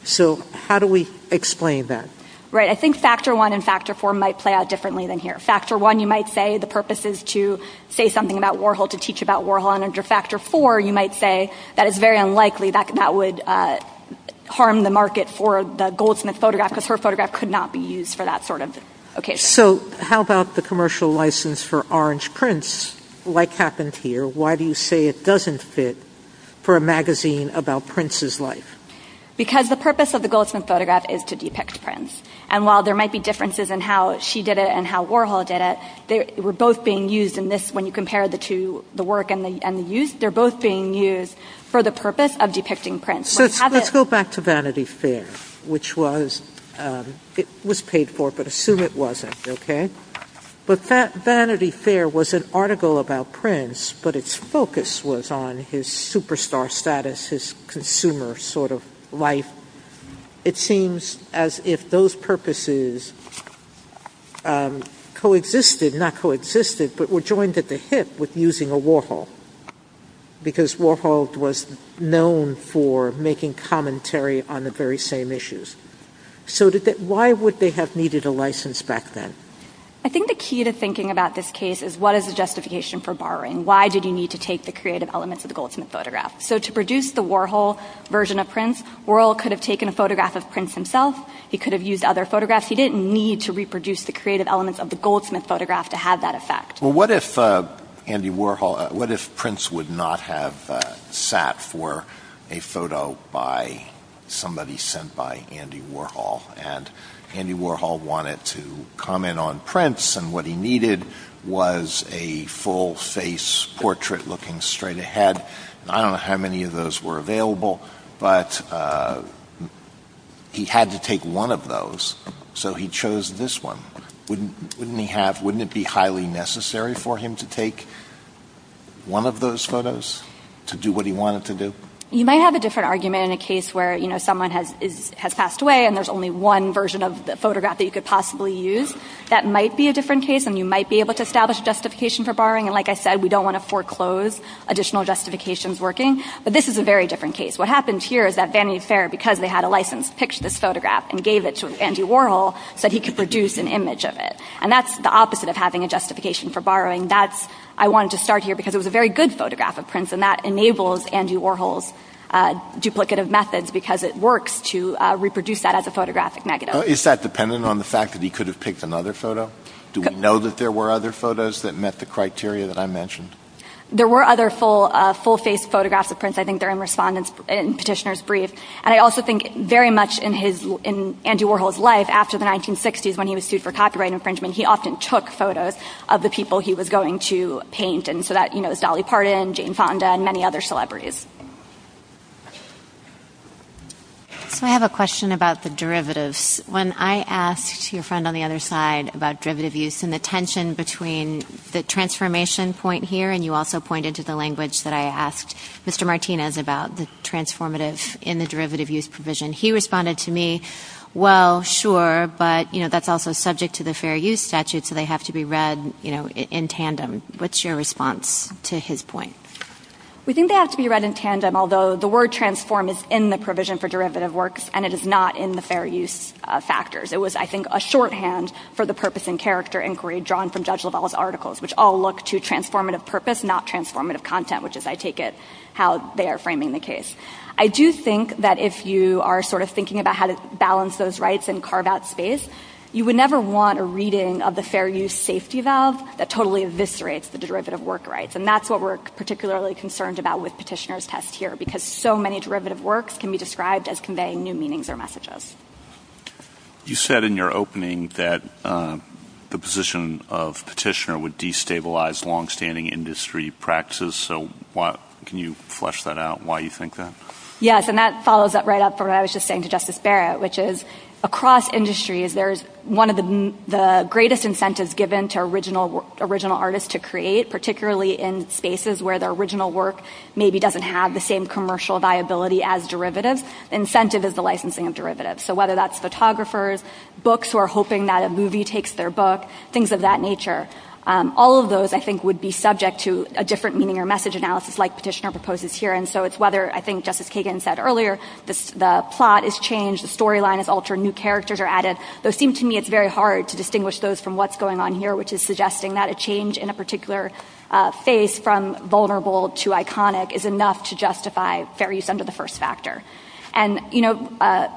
So how do we explain that? Right. I think factor one and factor four might play out differently than here. Factor one, you might say the purpose is to say something about Warhol, to teach about Warhol. And under factor four, you might say that it's very unlikely that that would harm the market for the goldsmith photograph because her photograph could not be used for that sort of occasion. So how about the commercial license for orange prints? Like happened here, why do you say it doesn't fit for a magazine about Prince's life? Because the purpose of the goldsmith photograph is to depict Prince. And while there might be differences in how she did it and how Warhol did it, they were both being used in this when you compare the two, the work and the use, they're both being used for the purpose of depicting Prince. Let's go back to Vanity Fair, which was paid for, but assume it wasn't. Okay. But that Vanity Fair was an article about Prince, but its focus was on his superstar status, his consumer sort of life. It seems as if those purposes coexisted, not coexisted, but were joined at the hip with using a Warhol because Warhol was known for making commentary on the very same issues. So why would they have needed a license back then? I think the key to thinking about this case is what is the justification for borrowing? Why did you need to take the creative elements of the goldsmith photograph? So to produce the Warhol version of Prince, Warhol could have taken a photograph of Prince himself. He could have used other photographs. He didn't need to reproduce the creative elements of the goldsmith photograph to have that effect. Well, what if Prince would not have sat for a photo by somebody sent by Warhol, and Andy Warhol wanted to comment on Prince, and what he needed was a full face portrait looking straight ahead. I don't know how many of those were available, but he had to take one of those, so he chose this one. Wouldn't it be highly necessary for him to take one of those photos to do what he wanted to do? You might have a different argument in a case where someone has passed away and there's only one version of the photograph that you could possibly use. That might be a different case, and you might be able to establish justification for borrowing. Like I said, we don't want to foreclose additional justifications working, but this is a very different case. What happened here is that Vanity Fair, because they had a license, picked this photograph and gave it to Andy Warhol so that he could produce an image of it. That's the opposite of having a justification for borrowing. I wanted to start here because it works to reproduce that as a photographic negative. Is that dependent on the fact that he could have picked another photo? Do we know that there were other photos that met the criteria that I mentioned? There were other full face photographs of Prince. I think they're in Petitioner's Brief. I also think very much in Andy Warhol's life after the 1960s when he was sued for copyright infringement, he often took photos of the people he was going to paint. It was Dolly Parton, Jane Fonda, and many other celebrities. I have a question about the derivatives. When I asked your friend on the other side about derivative use and the tension between the transformation point here, and you also pointed to the language that I asked Mr. Martinez about the transformative in the derivative use provision, he responded to me, well, sure, but that's also subject to the Fair Use Statute, so they have to be read in tandem. What's your response to his point? We think they have to be read in tandem, although the word transform is in the provision for derivative works and it is not in the fair use factors. It was, I think, a shorthand for the purpose and character inquiry drawn from Judge Lovell's articles, which all look to transformative purpose, not transformative content, which is, I take it, how they are framing the case. I do think that if you are sort of thinking about how to balance those rights and carve out space, you would never want a reading of the fair use safety valve that totally eviscerates the derivative work rights, and that's what we're particularly concerned about with Petitioner's test here, because so many derivative works can be described as conveying new meanings or messages. You said in your opening that the position of Petitioner would destabilize long-standing industry practices, so can you flesh that out, why you think that? Yes, and that follows up right up to what I was just saying to to original artists to create, particularly in spaces where the original work maybe doesn't have the same commercial viability as derivative. Incentive is the licensing of derivatives, so whether that's photographers, books who are hoping that a movie takes their book, things of that nature. All of those, I think, would be subject to a different meaning or message analysis like Petitioner proposes here, and so it's whether, I think, just as Kagan said earlier, the plot is changed, the storyline is altered, new characters are added. It seems to me it's very hard to distinguish those from what's going on here, which is suggesting that a change in a particular phase from vulnerable to iconic is enough to justify fair use under the first factor. And, you know,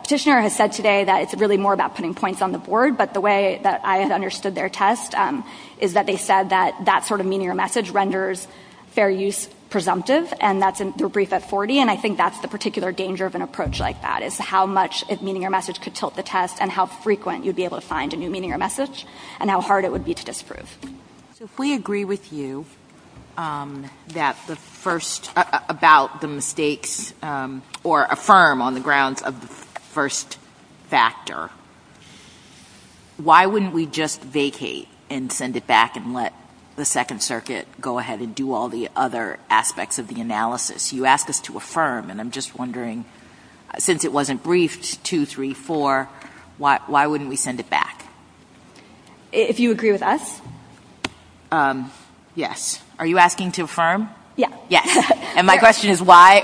Petitioner has said today that it's really more about putting points on the board, but the way that I understood their test is that they said that that sort of meaning or message renders fair use presumptive, and that's in their brief at 40, and I think that's the particular danger of an approach like that, is how much is meaning or message could tilt the message, and how hard it would be to disprove. So if we agree with you that the first, about the mistakes, or affirm on the grounds of the first factor, why wouldn't we just vacate and send it back and let the Second Circuit go ahead and do all the other aspects of the analysis? You ask us to affirm, and I'm just wondering, since it wasn't briefed, two, three, four, why wouldn't we send it back? If you agree with us? Yes. Are you asking to affirm? Yes. Yes. And my question is, why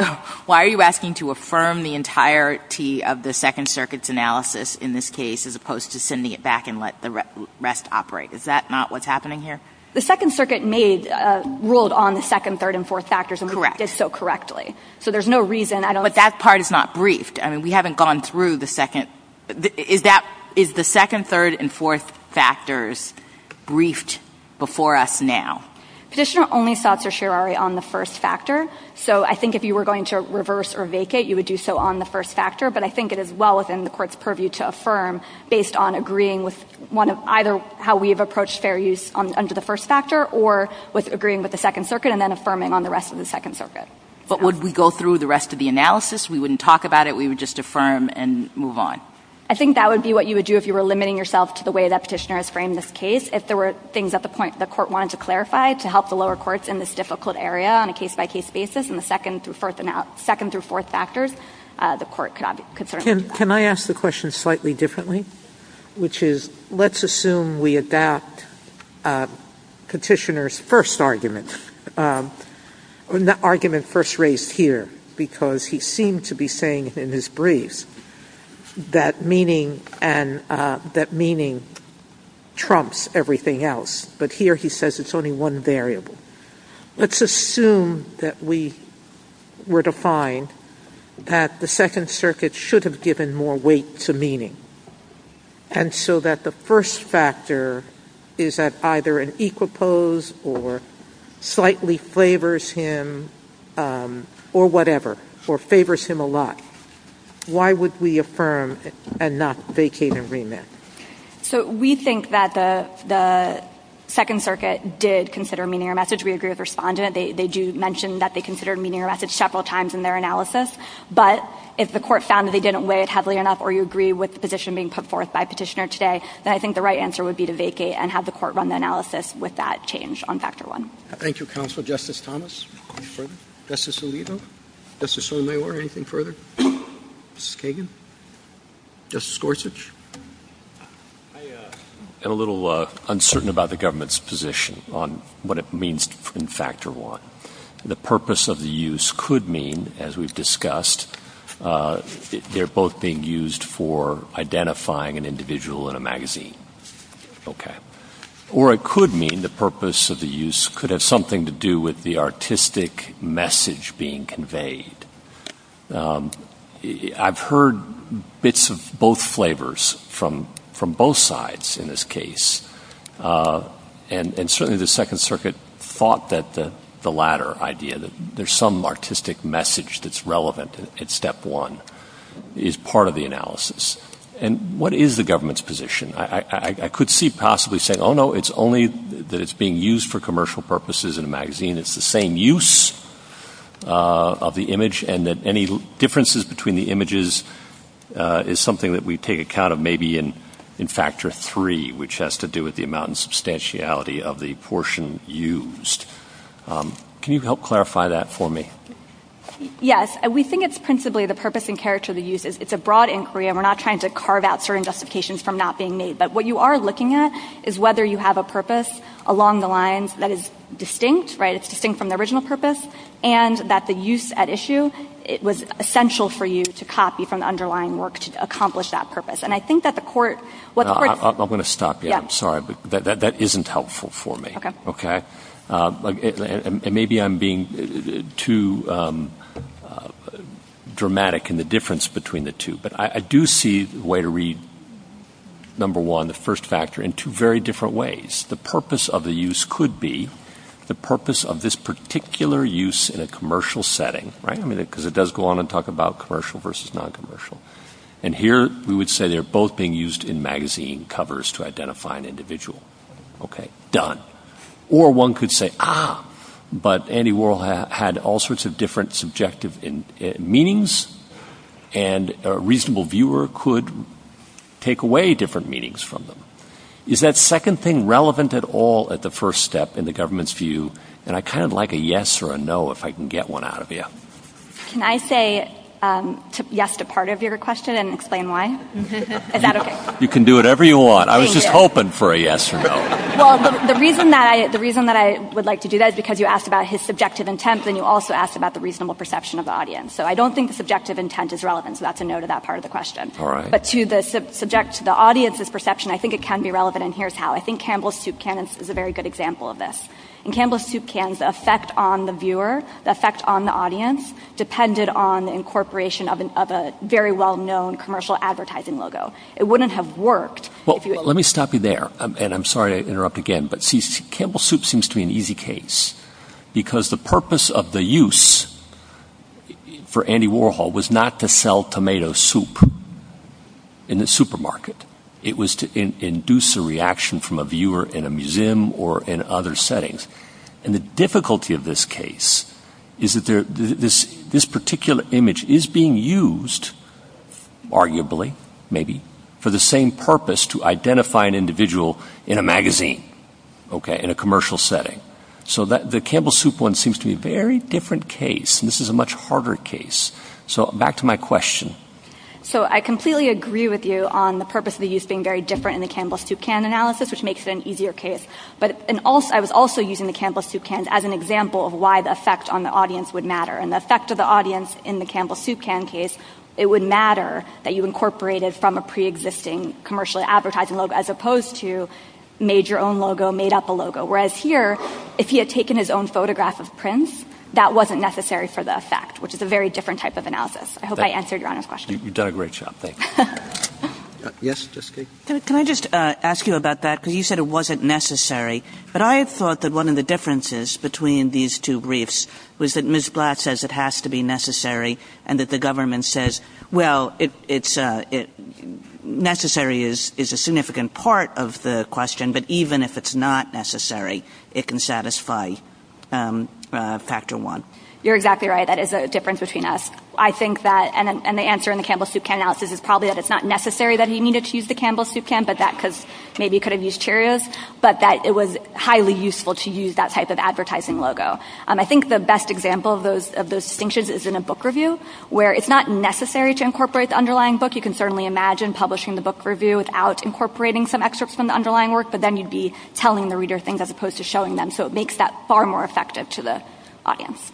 are you asking to affirm the entirety of the Second Circuit's analysis in this case, as opposed to sending it back and let the rest operate? Is that not what's happening here? The Second Circuit ruled on the second, third, and fourth factors and did so correctly, so there's no reason I don't... But that part is not briefed. I mean, we haven't gone through the second. Is the second, third, and fourth factors briefed before us now? Petitioner only sought certiorari on the first factor, so I think if you were going to reverse or vacate, you would do so on the first factor, but I think it is well within the Court's purview to affirm based on agreeing with either how we have approached fair use under the first factor, or with agreeing with the Second Circuit and then affirming on the rest of the Second Circuit. But would we go through the rest of the analysis? We wouldn't talk about it? We would just affirm and move on? I think that would be what you would do if you were limiting yourself to the way that petitioner has framed this case. If there were things at the point that the Court wanted to clarify to help the lower courts in this difficult area on a case-by-case basis, in the second through fourth factors, the Court could certainly do that. Can I ask the question slightly differently, which is, let's assume we adapt petitioner's first argument, the argument first raised here, because he seemed to be saying in his brief that meaning trumps everything else, but here he says it is only one variable. Let's assume that we were to find that the Second Circuit should have given more weight to meaning, and so that the first factor is at either an equal pose or slightly favors him, or whatever, or favors him a lot. Why would we affirm and not vacate and remit? So we think that the Second Circuit did consider meaning or message. We agree with respondent. They do mention that they considered meaning or message several times in their analysis, but if the Court found that they didn't weigh it heavily enough, or you agree with the position being put forth by petitioner today, then I think the right answer would be to vacate and have the Court run the analysis with that change on Factor I. Thank you, Counsel. Justice Thomas? Justice Alito? Justice Sotomayor? Anything further? Justice Kagan? Justice Gorsuch? I am a little uncertain about the government's position on what it means in Factor I. The purpose of the use could mean, as we've discussed, they're both being used for identifying an individual in a magazine. Okay. Or it could mean the purpose of the use could have something to do with the artistic message being conveyed. I've heard bits of both flavors from both sides in this case. And certainly the Second Circuit thought that the latter idea, that there's some artistic message that's relevant at Step 1, is part of the analysis. And what is the government's position? I could see possibly saying, oh, no, it's only that it's being used for commercial purposes in a magazine. It's the same use of the image, and that any differences between the images is something that we take account of maybe in Factor III, which has to do with the amount and substantiality of the portion used. Can you help clarify that for me? Yes. We think it's principally the purpose and character of the use. It's a broad inquiry, and we're not trying to carve out certain justifications from not being made. But what you are looking at is whether you have a purpose along the lines that is distinct, right? It's distinct from the original purpose, and that the use at issue, it was essential for you to copy from the underlying work to accomplish that purpose. And I think that the court... I'm going to stop you. I'm sorry, but that isn't helpful for me. Okay? And maybe I'm being too dramatic in the difference between the two. But I do see the way to read, number one, the first factor in two very different ways. The purpose of the use could be the purpose of this particular use in a commercial setting, right? Because it does go on and talk about commercial versus noncommercial. And here we would say they're both being used in magazine covers to identify an individual. Okay. Done. Or one could say, ah, but Andy Warhol had all sorts of different subjective meanings, and a reasonable viewer could take away different meanings from them. Is that second thing relevant at all at the first step in the government's view? And I kind of like a yes or a no if I can get one out of you. Can I say yes to part of your question and explain why? Is that okay? You can do whatever you want. I was just hoping for a yes or no. Well, the reason that I would like to do that is because you asked about his subjective intent, and you also asked about the reasonable perception of the audience. So I don't think the subjective intent is relevant. So that's a no to that part of the question. But to the audience's perception, I think it can be relevant, and here's how. I think Campbell's soup can is a very good example of this. In Campbell's soup cans, the effect on the viewer, the effect on the audience, depended on the incorporation of a very well-known commercial advertising logo. It wouldn't have worked if you had— Well, let me stop you there, and I'm sorry to interrupt again, but see, Campbell's soup seems to be an easy case, because the purpose of the use for Andy Warhol was not to sell tomato soup in the supermarket. It was to induce a reaction from a viewer in a museum or in other settings. And the difficulty of this case is that this particular image is being used, arguably, maybe, for the same purpose, to identify an individual in a magazine, okay, in a commercial setting. So the Campbell's soup one seems to be a very different case, and this is a much harder case. So back to my question. So I completely agree with you on the purpose of the use being very different in the Campbell's soup can analysis, which makes it an easier case. But I was also using the Campbell's soup cans as an example of why the effect on the audience would matter. And the effect of the audience in the Campbell's soup can case, it would matter that you incorporated from a pre-existing commercial advertising logo, as opposed to made your own logo, made up a logo. Whereas here, if he had taken his own photograph of Prince, that wasn't necessary for the effect, which is a very different type of analysis. I hope I answered your question. You did a great job. Thank you. Yes, Justine. Can I just ask you about that? Because you said it wasn't necessary. But I thought that one of the differences between these two briefs was that Ms. Blatt says it has to be necessary, and that the government says, well, necessary is a significant part of the question, but even if it's not necessary, it can satisfy factor one. You're exactly right. That is a difference between us. I think that, and the answer in the Campbell's soup can analysis is probably that it's not necessary that you needed to use the Campbell's soup can, but that could, maybe you could have used Cheerios, but that it was highly useful to use that type of advertising logo. I think the best example of those distinctions is in a book review, where it's not necessary to incorporate the underlying book. You can certainly imagine publishing the book review without incorporating some excerpts from the underlying work, but then you'd be telling the reader things as opposed to showing them. So, it makes that far more effective to the audience.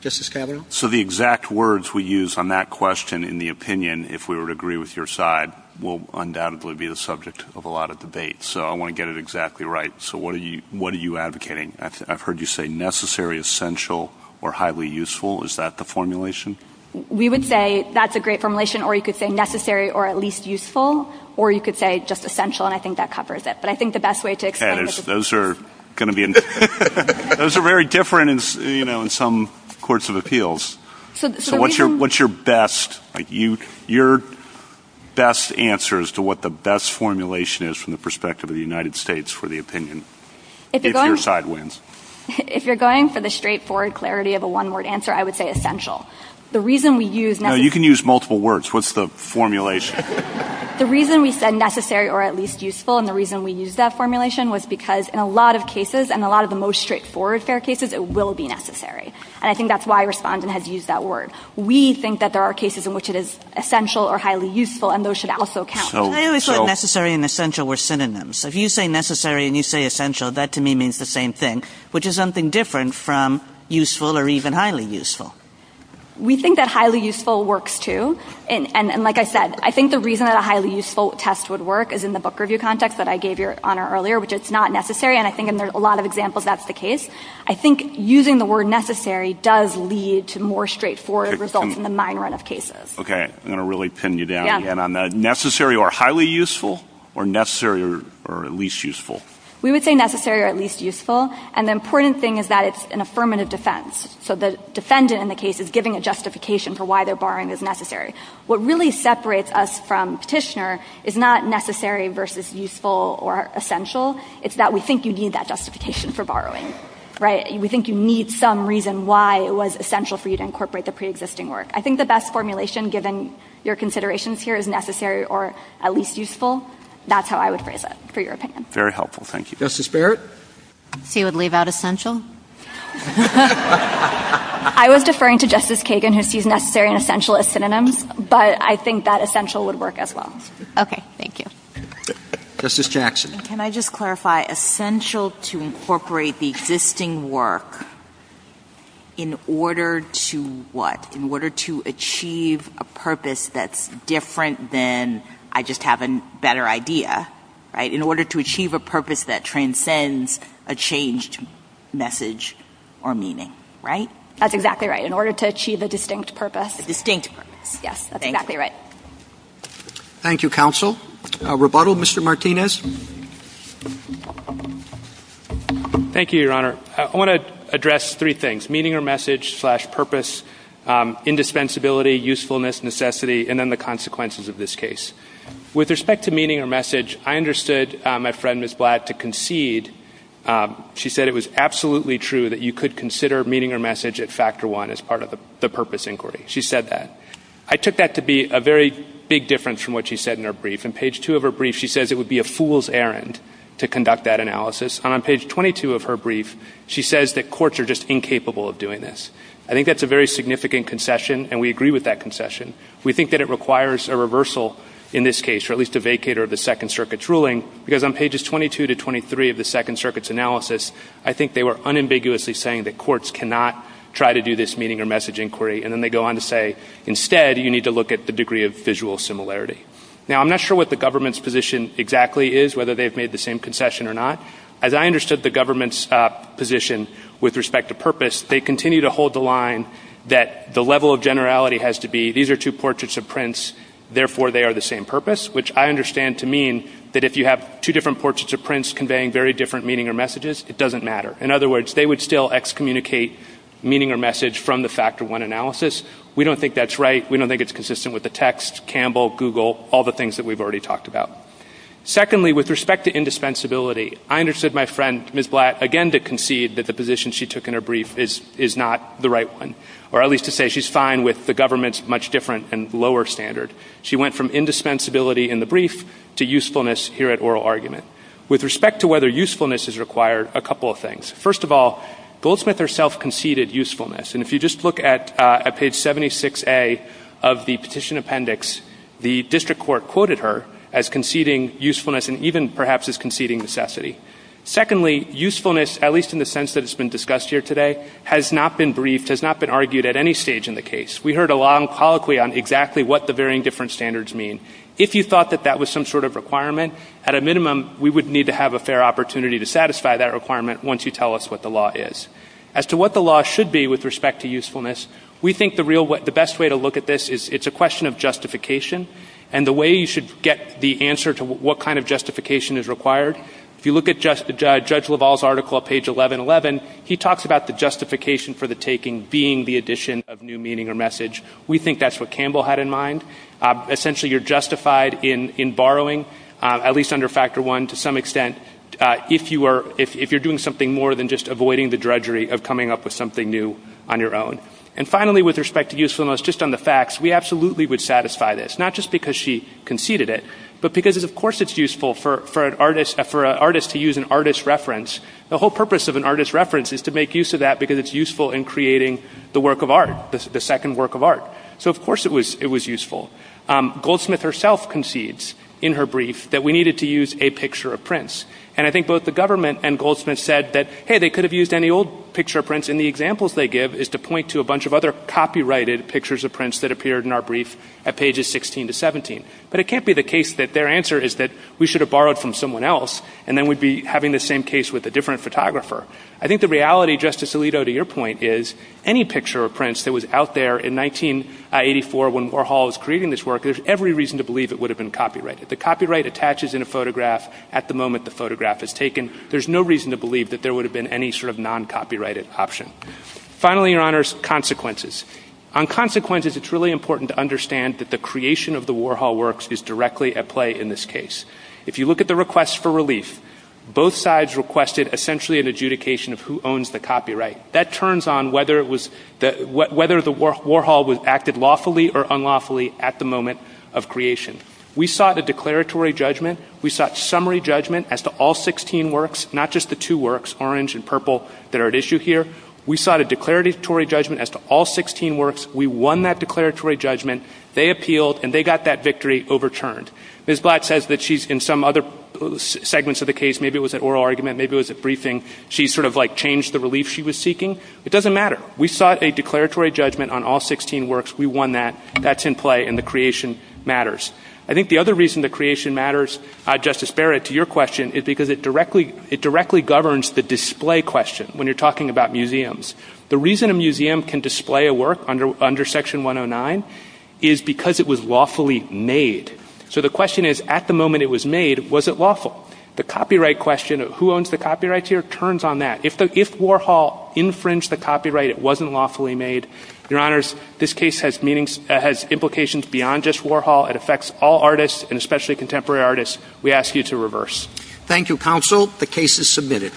Justice Scalia? So, the exact words we use on that question, in the opinion, if we were to agree with your side, will undoubtedly be the subject of a lot of debate. So, I want to get it exactly right. So, what are you advocating? I've heard you say necessary, essential, or highly useful. Is that the formulation? We would say that's a great formulation, or you could say necessary, or at least useful, or you could say just essential, and I think that covers it. But I think the best way to explain those are going to be very different in some courts of appeals. So, what's your best answer as to what the best formulation is from the perspective of the United States for the opinion, if your side wins? If you're going for the straightforward clarity of a one-word answer, I would say essential. The reason we use... No, you can use multiple words. What's the formulation? The reason we said necessary, or at least useful, and the reason we used that formulation was because in a lot of cases, and a lot of the most straightforward fair cases, it will be necessary, and I think that's why I respond and have used that word. We think that there are cases in which it is essential or highly useful, and those should also count. So, necessary and essential were synonyms. So, if you say necessary and you say essential, that to me means the same thing, which is something different from useful or even highly useful. We think that highly useful works too, and like I said, I think the reason that a highly useful test would work is in the book review context that I gave your honor earlier, which it's not necessary, and I think in a lot of examples, that's the case. I think using the word necessary does lead to more straightforward results in the minor enough cases. Okay. I'm going to really pin you down again on that. Necessary or highly useful, or necessary or at least useful? We would say necessary or at least useful, and the important thing is that it's an affirmative defense. So, the defendant in the case is giving a justification for why their barring is necessary. What really separates us from Petitioner is not necessary versus useful or essential, it's that we think you need that justification for borrowing, right? We think you need some reason why it was essential for you to incorporate the preexisting work. I think the best formulation given your considerations here is necessary or at least useful. That's how I would phrase it, for your opinion. Very helpful. Thank you. Justice Barrett? He would leave out essential? I was deferring to Justice Kagan, if he's necessary and essential as synonyms, but I think that essential would work as well. Okay. Thank you. Justice Jackson? Can I just clarify essential to incorporate the existing work in order to what? In order to achieve a purpose that's different than I just have a better idea, right? In order to achieve a purpose that transcends a changed message or meaning, right? That's exactly right. In order to achieve a distinct purpose. A distinct purpose. Yes, that's exactly right. Thank you, counsel. Rebuttal, Mr. Martinez? Thank you, Your Honor. I want to address three things, meaning or message slash purpose, indispensability, usefulness, necessity, and then the consequences of this case. With respect to meaning or message, I understood my friend, Ms. Black, to concede. She said it was absolutely true that you could consider meaning or message at factor one as part of the purpose inquiry. She said that. I took that to be a very big difference from what she said in her brief. In page two of her brief, she says it would be a fool's errand to conduct that analysis. And on page 22 of her brief, she says that courts are just incapable of doing this. I think that's a very significant concession, and we agree with that concession. We think that it in this case, or at least a vacator of the Second Circuit's ruling, because on pages 22 to 23 of the Second Circuit's analysis, I think they were unambiguously saying that courts cannot try to do this meaning or message inquiry. And then they go on to say, instead, you need to look at the degree of visual similarity. Now, I'm not sure what the government's position exactly is, whether they've made the same concession or not. As I understood the government's position with respect to purpose, they continue to hold the line that the level of generality has to be, these are two which I understand to mean that if you have two different portraits of Prince conveying very different meaning or messages, it doesn't matter. In other words, they would still excommunicate meaning or message from the factor one analysis. We don't think that's right. We don't think it's consistent with the text, Campbell, Google, all the things that we've already talked about. Secondly, with respect to indispensability, I understood my friend, Ms. Blatt, again, to concede that the position she took in her brief is not the right one, or at least to say she's fine with the much different and lower standard. She went from indispensability in the brief to usefulness here at oral argument. With respect to whether usefulness is required, a couple of things. First of all, Goldsmith herself conceded usefulness. And if you just look at page 76a of the petition appendix, the district court quoted her as conceding usefulness and even perhaps as conceding necessity. Secondly, usefulness, at least in the sense that it's been discussed here today, has not been briefed, has not been argued at any stage in the case. We heard a long colloquy on exactly what the varying different standards mean. If you thought that that was some sort of requirement, at a minimum, we would need to have a fair opportunity to satisfy that requirement once you tell us what the law is. As to what the law should be with respect to usefulness, we think the best way to look at this is it's a question of justification and the way you should get the answer to what kind of justification is required. If you look at Judge LaValle's article at page 1111, he talks about the justification for the message. We think that's what Campbell had in mind. Essentially, you're justified in borrowing, at least under Factor I, to some extent, if you're doing something more than just avoiding the drudgery of coming up with something new on your own. And finally, with respect to usefulness, just on the facts, we absolutely would satisfy this, not just because she conceded it, but because of course it's useful for an artist to use an artist's reference. The whole purpose of an artist's reference is to make use of that because it's useful in creating the work of art, the second work of art. So of course it was useful. Goldsmith herself concedes in her brief that we needed to use a picture of Prince. And I think both the government and Goldsmith said that, hey, they could have used any old picture of Prince. And the examples they give is to point to a bunch of other copyrighted pictures of Prince that appeared in our brief at pages 16 to 17. But it can't be the case that their answer is that we should have borrowed from someone else and then we'd be having the same case with a different photographer. I think the reality, Justice Alito, to your point, is any picture of Prince that was out there in 1984 when Warhol was creating this work, there's every reason to believe it would have been copyrighted. The copyright attaches in a photograph at the moment the photograph is taken, there's no reason to believe that there would have been any sort of non-copyrighted option. Finally, Your Honors, consequences. On consequences, it's really important to understand that the creation of the Warhol works is directly at play in this case. If you look at the request for relief, both sides requested essentially an adjudication of who owns the copyright. That turns on whether the Warhol acted lawfully or unlawfully at the moment of creation. We sought a declaratory judgment, we sought summary judgment as to all 16 works, not just the two works, orange and purple, that are at issue here. We sought a declaratory judgment as to all 16 works, we won that declaratory judgment, they appealed, and they got that victory overturned. Ms. Black says that she's in some other segments of the change the relief she was seeking. It doesn't matter. We sought a declaratory judgment on all 16 works, we won that, that's in play, and the creation matters. I think the other reason the creation matters, Justice Barrett, to your question is because it directly governs the display question when you're talking about museums. The reason a museum can display a work under Section 109 is because it was lawfully made. So the question is, at the moment it was lawful. The copyright question, who owns the copyrights here, turns on that. If Warhol infringed the copyright, it wasn't lawfully made. Your Honors, this case has implications beyond just Warhol. It affects all artists and especially contemporary artists. We ask you to reverse. Thank you, Counsel. The case is submitted.